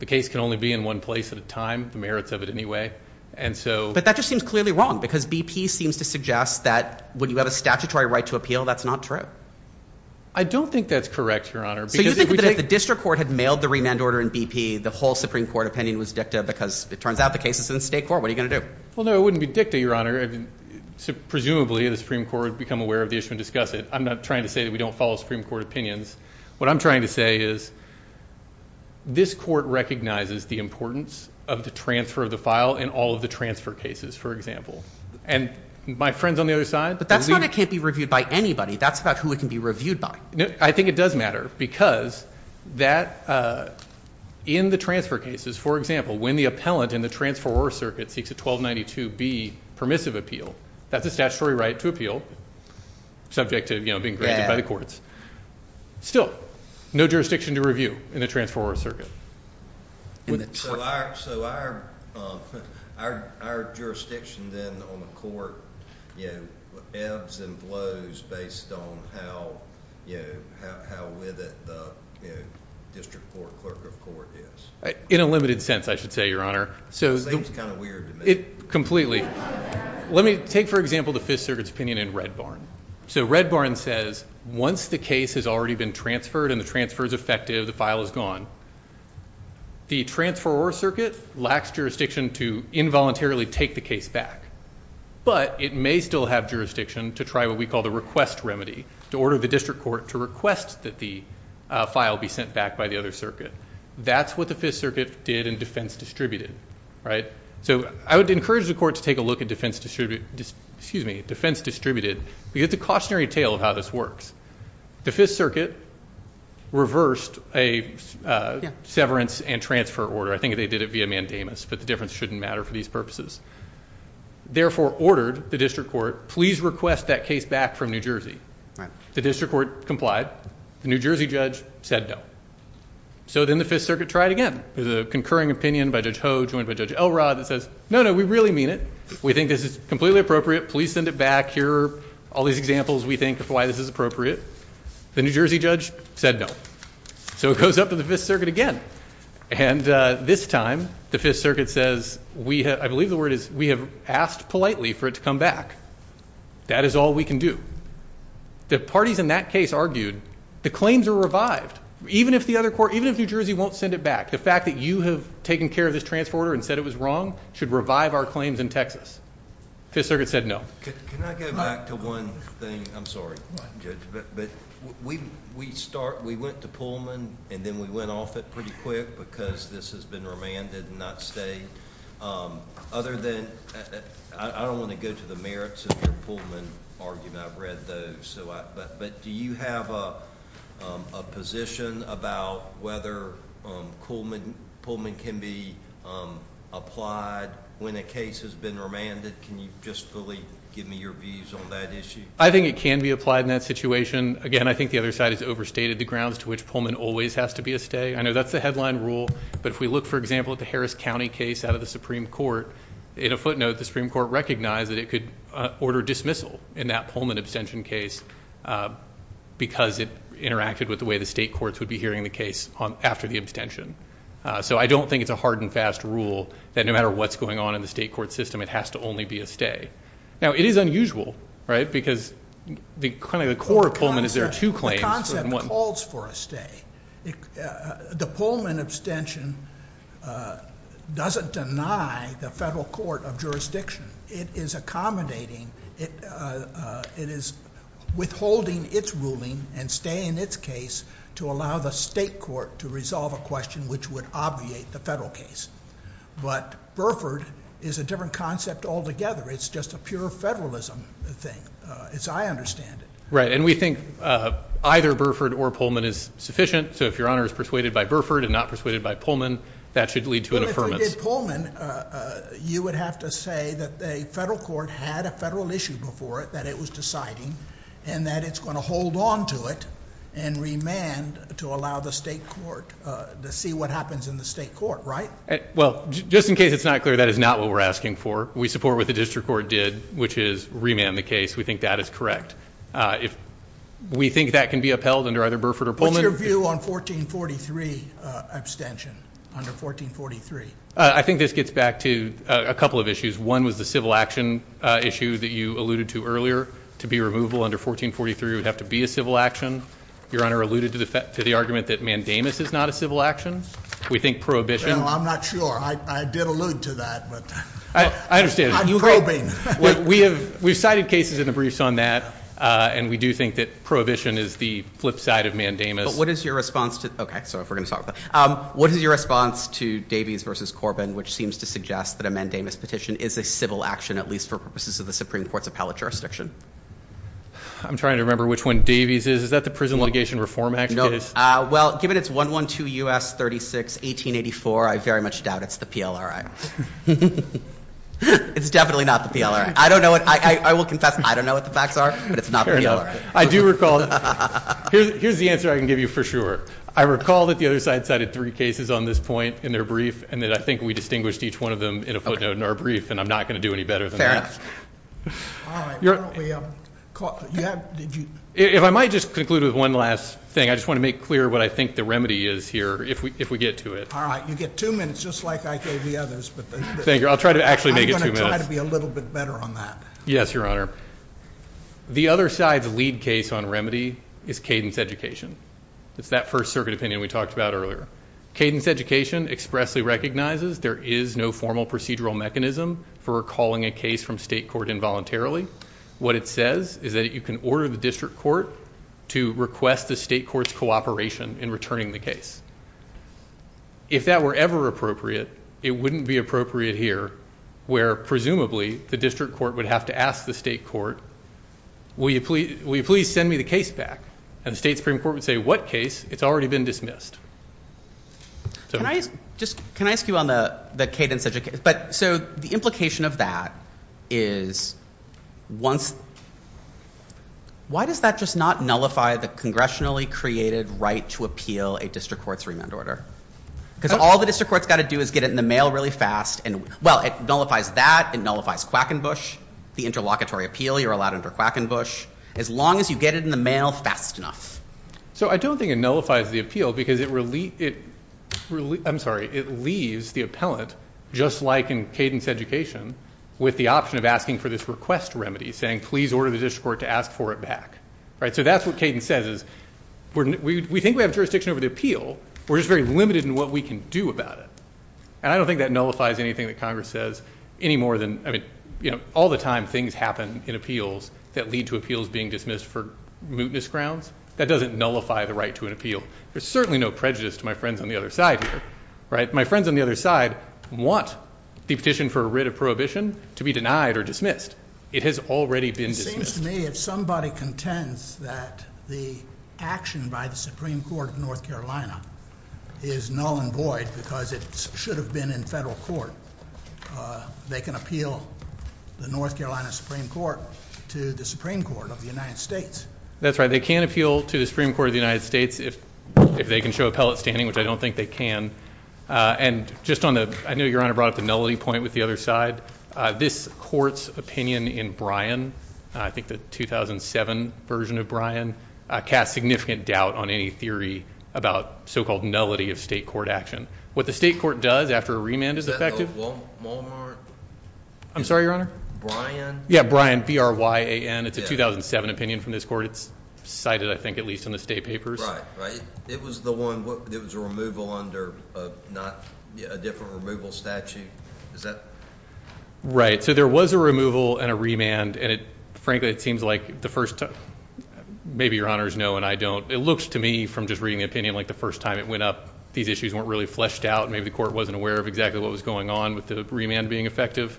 The case can only be in one place at a time, the merits of it anyway. But that just seems clearly wrong, because BP seems to suggest that when you have a statutory right to appeal, that's not true. I don't think that's correct, Your Honor. So you think that if the district court had mailed the remand order in BP, the whole Supreme Court opinion was dicta because it turns out the case is in the state court? What are you going to do? Well, no, it wouldn't be dicta, Your Honor. Presumably, the Supreme Court would become aware of the issue and discuss it. I'm not trying to say that we don't follow Supreme Court opinions. What I'm trying to say is this court recognizes the importance of the transfer of the file in all of the transfer cases, for example. And my friends on the other side... But that's why it can't be reviewed by anybody. That's about who it can be reviewed by. I think it does matter, because in the transfer cases, for example, when the appellant in the transferor circuit seeks a 1292B permissive appeal, that's a statutory right to appeal, subject to being granted by the courts. Still, no jurisdiction to review in a transferor circuit. So our jurisdiction, then, on the court ebbs and blows based on how vivid the district court clerk report is. In a limited sense, I should say, Your Honor. That's kind of weird to me. Completely. Let me take, for example, the Fifth Circuit's opinion in Red Barn. So Red Barn says once the case has already been transferred and the transfer is effective, the file is gone. The transferor circuit lacks jurisdiction to involuntarily take the case back. But it may still have jurisdiction to try what we call the request remedy, to order the district court to request that the file be sent back by the other circuit. That's what the Fifth Circuit did in defense distributed. So I would encourage the court to take a look at defense distributed. You get the cautionary tale of how this works. The Fifth Circuit reversed a severance and transfer order. I think they did it via mandamus, but the difference shouldn't matter for these purposes. Therefore ordered the district court, please request that case back from New Jersey. The district court complied. The New Jersey judge said no. So then the Fifth Circuit tried again. There's a concurring opinion by Judge Hogue joined by Judge Elrod that says, no, no, we really mean it. We think this is completely appropriate. Please send it back. Here are all these examples we think of why this is appropriate. The New Jersey judge said no. So it goes up to the Fifth Circuit again. And this time the Fifth Circuit says, I believe the word is we have asked politely for it to come back. That is all we can do. The parties in that case argued the claims are revived. Even if the other court, even if New Jersey won't send it back, the fact that you have taken care of this transfer order and said it was wrong should revive our claims in Texas. The Fifth Circuit said no. Can I go back to one thing? I'm sorry, Judge, but we went to Pullman and then we went off it pretty quick because this has been remanded and not stayed. Other than that, I don't want to go to the merits of the Pullman argument. I've read those. But do you have a position about whether Pullman can be applied when a case has been remanded? Can you just really give me your views on that issue? I think it can be applied in that situation. Again, I think the other side has overstated the grounds to which Pullman always has to be a stay. I know that's the headline rule, but if we look, for example, at the Harris County case out of the Supreme Court, in a footnote, the Supreme Court recognized that it could order dismissal in that Pullman abstention case because it interacted with the way the state courts would be hearing the case after the abstention. So I don't think it's a hard and fast rule that no matter what's going on in the state court system, it has to only be a stay. Now, it is unusual because the core of Pullman is there are two claims. The concept calls for a stay. The Pullman abstention doesn't deny the federal court of jurisdiction. It is accommodating. It is withholding its ruling and staying in its case to allow the state court to resolve a question which would obviate the federal case. But Burford is a different concept altogether. It's just a pure federalism thing, as I understand it. Right, and we think either Burford or Pullman is sufficient. So if Your Honor is persuaded by Burford and not persuaded by Pullman, that should lead to an affirmance. If we did Pullman, you would have to say that a federal court had a federal issue before it that it was deciding and that it's going to hold on to it and remand to allow the state court to see what happens in the state court, right? Well, just in case it's not clear, that is not what we're asking for. We support what the district court did, which is remand the case. We think that is correct. We think that can be upheld under either Burford or Pullman. What's your view on 1443 abstention, under 1443? I think this gets back to a couple of issues. One was the civil action issue that you alluded to earlier. To be removable under 1443 would have to be a civil action. Your Honor alluded to the argument that mandamus is not a civil action. We think prohibition. I'm not sure. I did allude to that, but I'm probing. We've cited cases in the briefs on that, and we do think that prohibition is the flip side of mandamus. What is your response to Davies v. Corbin, which seems to suggest that a mandamus petition is a civil action, at least for purposes of the Supreme Court's appellate jurisdiction? I'm trying to remember which one Davies is. Is that the Prison Litigation Reform Act case? Well, given it's 112 U.S. 36, 1884, I very much doubt it's the PLRI. It's definitely not the PLRI. I will confess I don't know what the facts are, but it's not the PLRI. Here's the answer I can give you for sure. I recall that the other side cited three cases on this point in their brief, and I think we distinguished each one of them in a footnote in our brief, and I'm not going to do any better than that. If I might just conclude with one last thing. I just want to make clear what I think the remedy is here, if we get to it. All right. You get two minutes, just like I gave the others. Thank you. I'll try to actually make it two minutes. I'm going to try to be a little bit better on that. Yes, Your Honor. The other side's lead case on remedy is Cadence Education. It's that First Circuit opinion we talked about earlier. Cadence Education expressly recognizes there is no formal procedural mechanism for recalling a case from state court involuntarily. What it says is that you can order the district court to request the state court's cooperation in returning the case. If that were ever appropriate, it wouldn't be appropriate here, where presumably the district court would have to ask the state court, will you please send me the case back? And the state Supreme Court would say, what case? It's already been dismissed. Can I ask you on the Cadence Education? So the implication of that is, why does that just not nullify the congressionally created right to appeal a district court's remand order? Because all the district court's got to do is get it in the mail really fast. Well, it nullifies that, it nullifies Quackenbush, the interlocutory appeal. You're allowed under Quackenbush. As long as you get it in the mail fast enough. So I don't think it nullifies the appeal because it leaves the appellant, just like in Cadence Education, with the option of asking for this request remedy, saying please order the district court to ask for it back. So that's what Cadence says is, we think we have jurisdiction over the appeal. We're just very limited in what we can do about it. And I don't think that nullifies anything that Congress says any more than, I mean, all the time things happen in appeals that lead to appeals being dismissed for mootness grounds. That doesn't nullify the right to an appeal. There's certainly no prejudice to my friends on the other side here. My friends on the other side want the petition for a writ of prohibition to be denied or dismissed. It has already been dismissed. It seems to me if somebody contends that the action by the Supreme Court of North Carolina is null and void because it should have been in federal court, they can appeal the North Carolina Supreme Court to the Supreme Court of the United States. That's right. They can appeal to the Supreme Court of the United States if they can show appellate standing, which I don't think they can. And just on the, I know Your Honor brought up the nullity point with the other side. This court's opinion in Bryan, I think the 2007 version of Bryan, casts significant doubt on any theory about so-called nullity of state court action. What the state court does after a remand is effective. Is that the Walmart? I'm sorry, Your Honor? Bryan? Yeah, Bryan, B-R-Y-A-N. It's a 2007 opinion from this court. It's cited, I think, at least in the state papers. Right, right. It was the one, it was a removal under a different removal statute. Is that? Right. So there was a removal and a remand, and frankly it seems like the first, maybe Your Honor is no and I don't, it looks to me from just reading the opinion like the first time it went up, these issues weren't really fleshed out. Maybe the court wasn't aware of exactly what was going on with the remand being effective.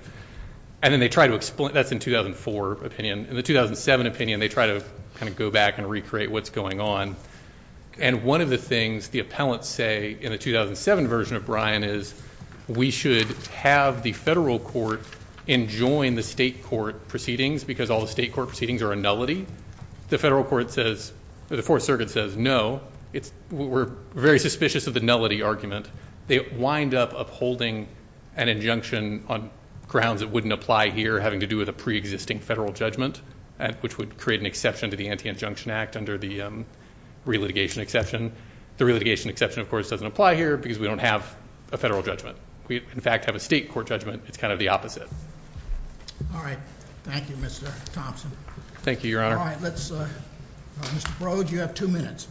And then they try to explain, that's in 2004 opinion. In the 2007 opinion, they try to kind of go back and recreate what's going on. And one of the things the appellants say in the 2007 version of Bryan is, we should have the federal court enjoin the state court proceedings because all the state court proceedings are a nullity. The federal court says, the Fourth Circuit says no. We're very suspicious of the nullity argument. They wind up upholding an injunction on grounds that wouldn't apply here, having to do with a pre-existing federal judgment, which would create an exception to the Anti-Injunction Act under the re-litigation exception. The re-litigation exception, of course, doesn't apply here because we don't have a federal judgment. We, in fact, have a state court judgment. It's kind of the opposite. All right. Thank you, Mr. Thompson. Thank you, Your Honor. Mr. Broad, you have two minutes.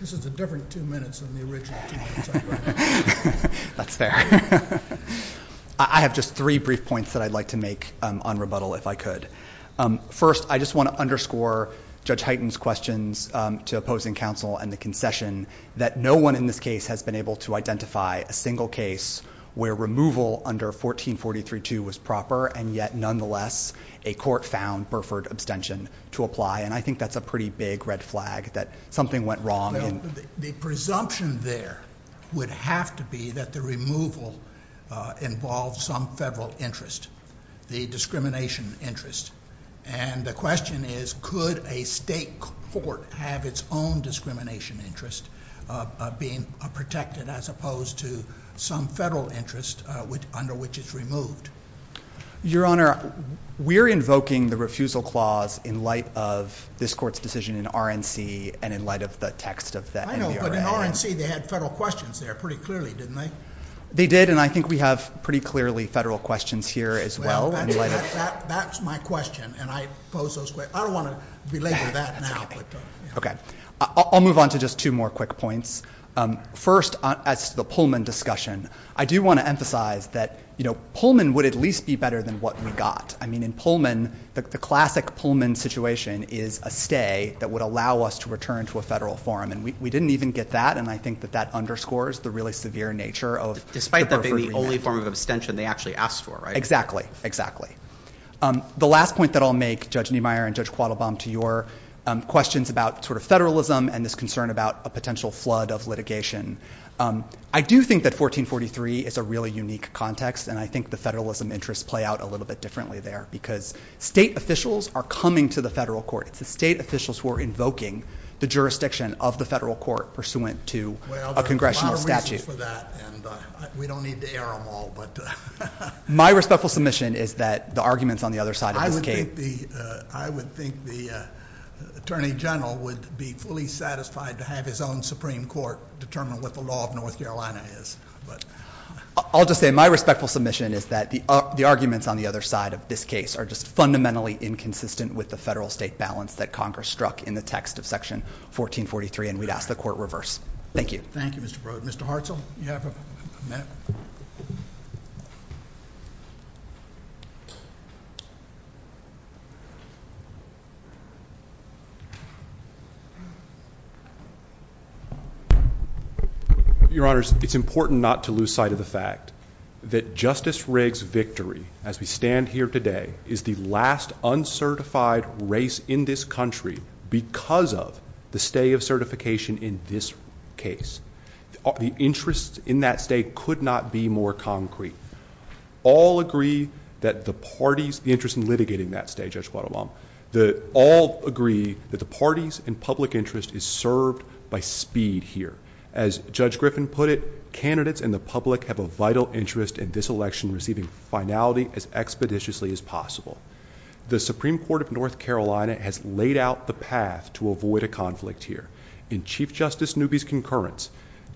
This is a different two minutes than the original two minutes. That's fair. I have just three brief points that I'd like to make on rebuttal, if I could. First, I just want to underscore Judge Hyten's questions to opposing counsel and the concession that no one in this case has been able to identify a single case where removal under 1443-2 was proper, and yet, nonetheless, a court found Burford abstention to apply. And I think that's a pretty big red flag that something went wrong. The presumption there would have to be that the removal involved some federal interest, the discrimination interest. And the question is, could a state court have its own discrimination interest being protected as opposed to some federal interest under which it's removed? Your Honor, we're invoking the refusal clause in light of this court's decision in RNC and in light of the text of that. I know, but in RNC, they had federal questions there pretty clearly, didn't they? They did, and I think we have pretty clearly federal questions here as well. Well, that's my question, and I pose those questions. I don't want to belabor that now. Okay. I'll move on to just two more quick points. First, as to the Pullman discussion, I do want to emphasize that, you know, Pullman would at least be better than what we got. I mean, in Pullman, the classic Pullman situation is a stay that would allow us to return to a federal forum, and we didn't even get that, and I think that that underscores the really severe nature of Burford's review. Despite that being the only form of abstention they actually asked for, right? Exactly, exactly. The last point that I'll make, Judge Niemeyer and Judge Quattlebaum, to your questions about sort of federalism and this concern about a potential flood of litigation, I do think that 1443 is a really unique context, and I think the federalism interests play out a little bit differently there because state officials are coming to the federal court. It's the state officials who are invoking the jurisdiction of the federal court pursuant to a congressional statute. Well, there's a lot of reasons for that, and we don't need to air them all, but... My respectful submission is that the arguments on the other side indicate... I would think the Attorney General would be fully satisfied to have his own Supreme Court determine what the law of North Carolina is, but... I'll just say my respectful submission is that the arguments on the other side of this case are just fundamentally inconsistent with the federal-state balance that Congress struck in the text of Section 1443, and we'd ask the Court reverse. Thank you. Thank you, Mr. Frode. Mr. Hartzell, you have a minute? Your Honors, it's important not to lose sight of the fact that Justice Riggs' victory as we stand here today is the last uncertified race in this country because of the stay of certification in this case. The interests in that stay could not be more concrete. All agree that the parties' interest in litigating that stay, Judge Foto, that all agree that the parties' and public interest is served by speed here. As Judge Griffin put it, candidates and the public have a vital interest in this election receiving finality as expeditiously as possible. The Supreme Court of North Carolina has laid out the path to avoid a conflict here. In Chief Justice Newby's concurrence,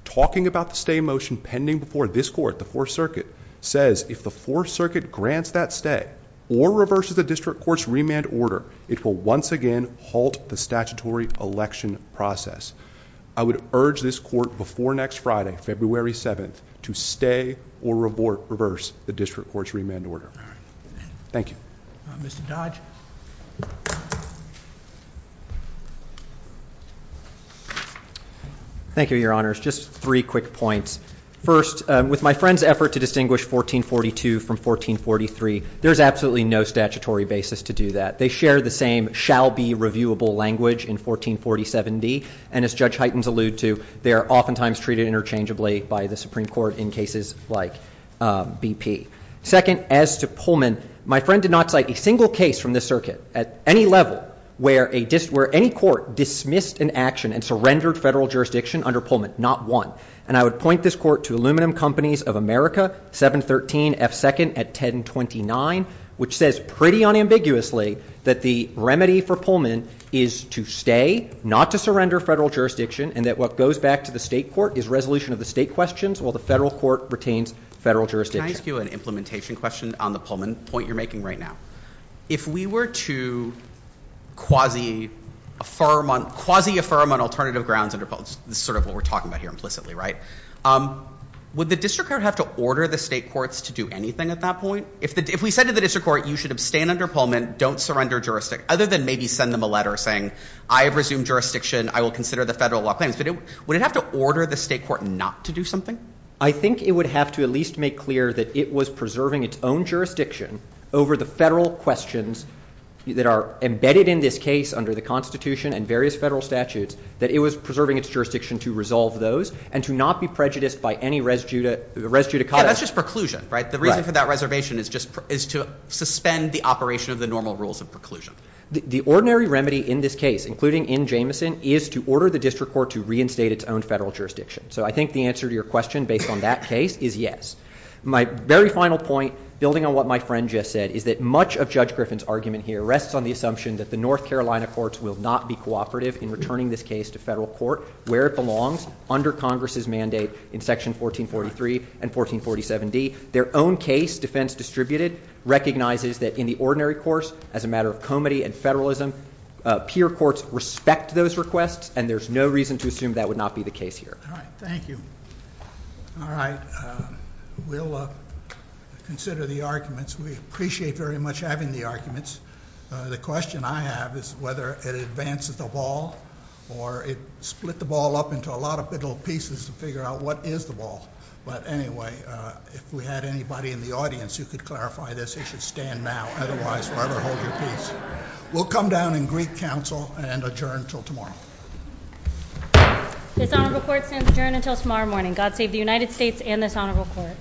talking about the stay motion pending before this Court, the Fourth Circuit, says if the Fourth Circuit grants that stay or reverses the District Court's remand order, it will once again halt the statutory election process. I would urge this Court before next Friday, February 7th, to stay or reverse the District Court's remand order. Thank you. Mr. Dodge? Thank you, Your Honors. Just three quick points. First, with my friend's effort to distinguish 1442 from 1443, there's absolutely no statutory basis to do that. They share the same shall-be-reviewable language in 1447B, and as Judge Heitens alluded to, they are oftentimes treated interchangeably by the Supreme Court in cases like BP. Second, as to Pullman, my friend did not cite a single case from this circuit at any level where any court dismissed an action and surrendered federal jurisdiction under Pullman, not one. And I would point this Court to Aluminum Companies of America, 713F2nd at 1029, which says pretty unambiguously that the remedy for Pullman is to stay, not to surrender federal jurisdiction, and that what goes back to the state court is resolution of the state questions while the federal court retains federal jurisdiction. Can I ask you an implementation question on the Pullman point you're making right now? If we were to quasi-affirm on alternative grounds under Pullman, this is sort of what we're talking about here implicitly, right? Would the district court have to order the state courts to do anything at that point? If we said to the district court, you should abstain under Pullman, don't surrender jurisdiction, other than maybe send them a letter saying, I have resumed jurisdiction, I will consider the federal law. Would it have to order the state court not to do something? I think it would have to at least make clear that it was preserving its own jurisdiction over the federal questions that are embedded in this case under the Constitution and various federal statutes, that it was preserving its jurisdiction to resolve those and to not be prejudiced by any res judicata. Yeah, that's just preclusion, right? The reason for that reservation is to suspend the operation of the normal rules of preclusion. The ordinary remedy in this case, including in Jameson, is to order the district court to reinstate its own federal jurisdiction. So I think the answer to your question based on that case is yes. My very final point, building on what my friend just said, is that much of Judge Griffin's argument here rests on the assumption that the North Carolina courts will not be cooperative in returning this case to federal court where it belongs, under Congress's mandate in Section 1443 and 1447D. Their own case, defense distributed, recognizes that in the ordinary course, as a matter of comity and federalism, peer courts respect those requests, and there's no reason to assume that would not be the case here. All right, thank you. All right, we'll consider the arguments. We appreciate very much having the arguments. The question I have is whether it advances the ball or it split the ball up into a lot of little pieces to figure out what is the ball. But anyway, if we had anybody in the audience who could clarify this, they should stand now. Otherwise, we're going to hold you in peace. We'll come down and greet counsel and adjourn until tomorrow. This honorable court adjourns until tomorrow morning. God save the United States and this honorable court.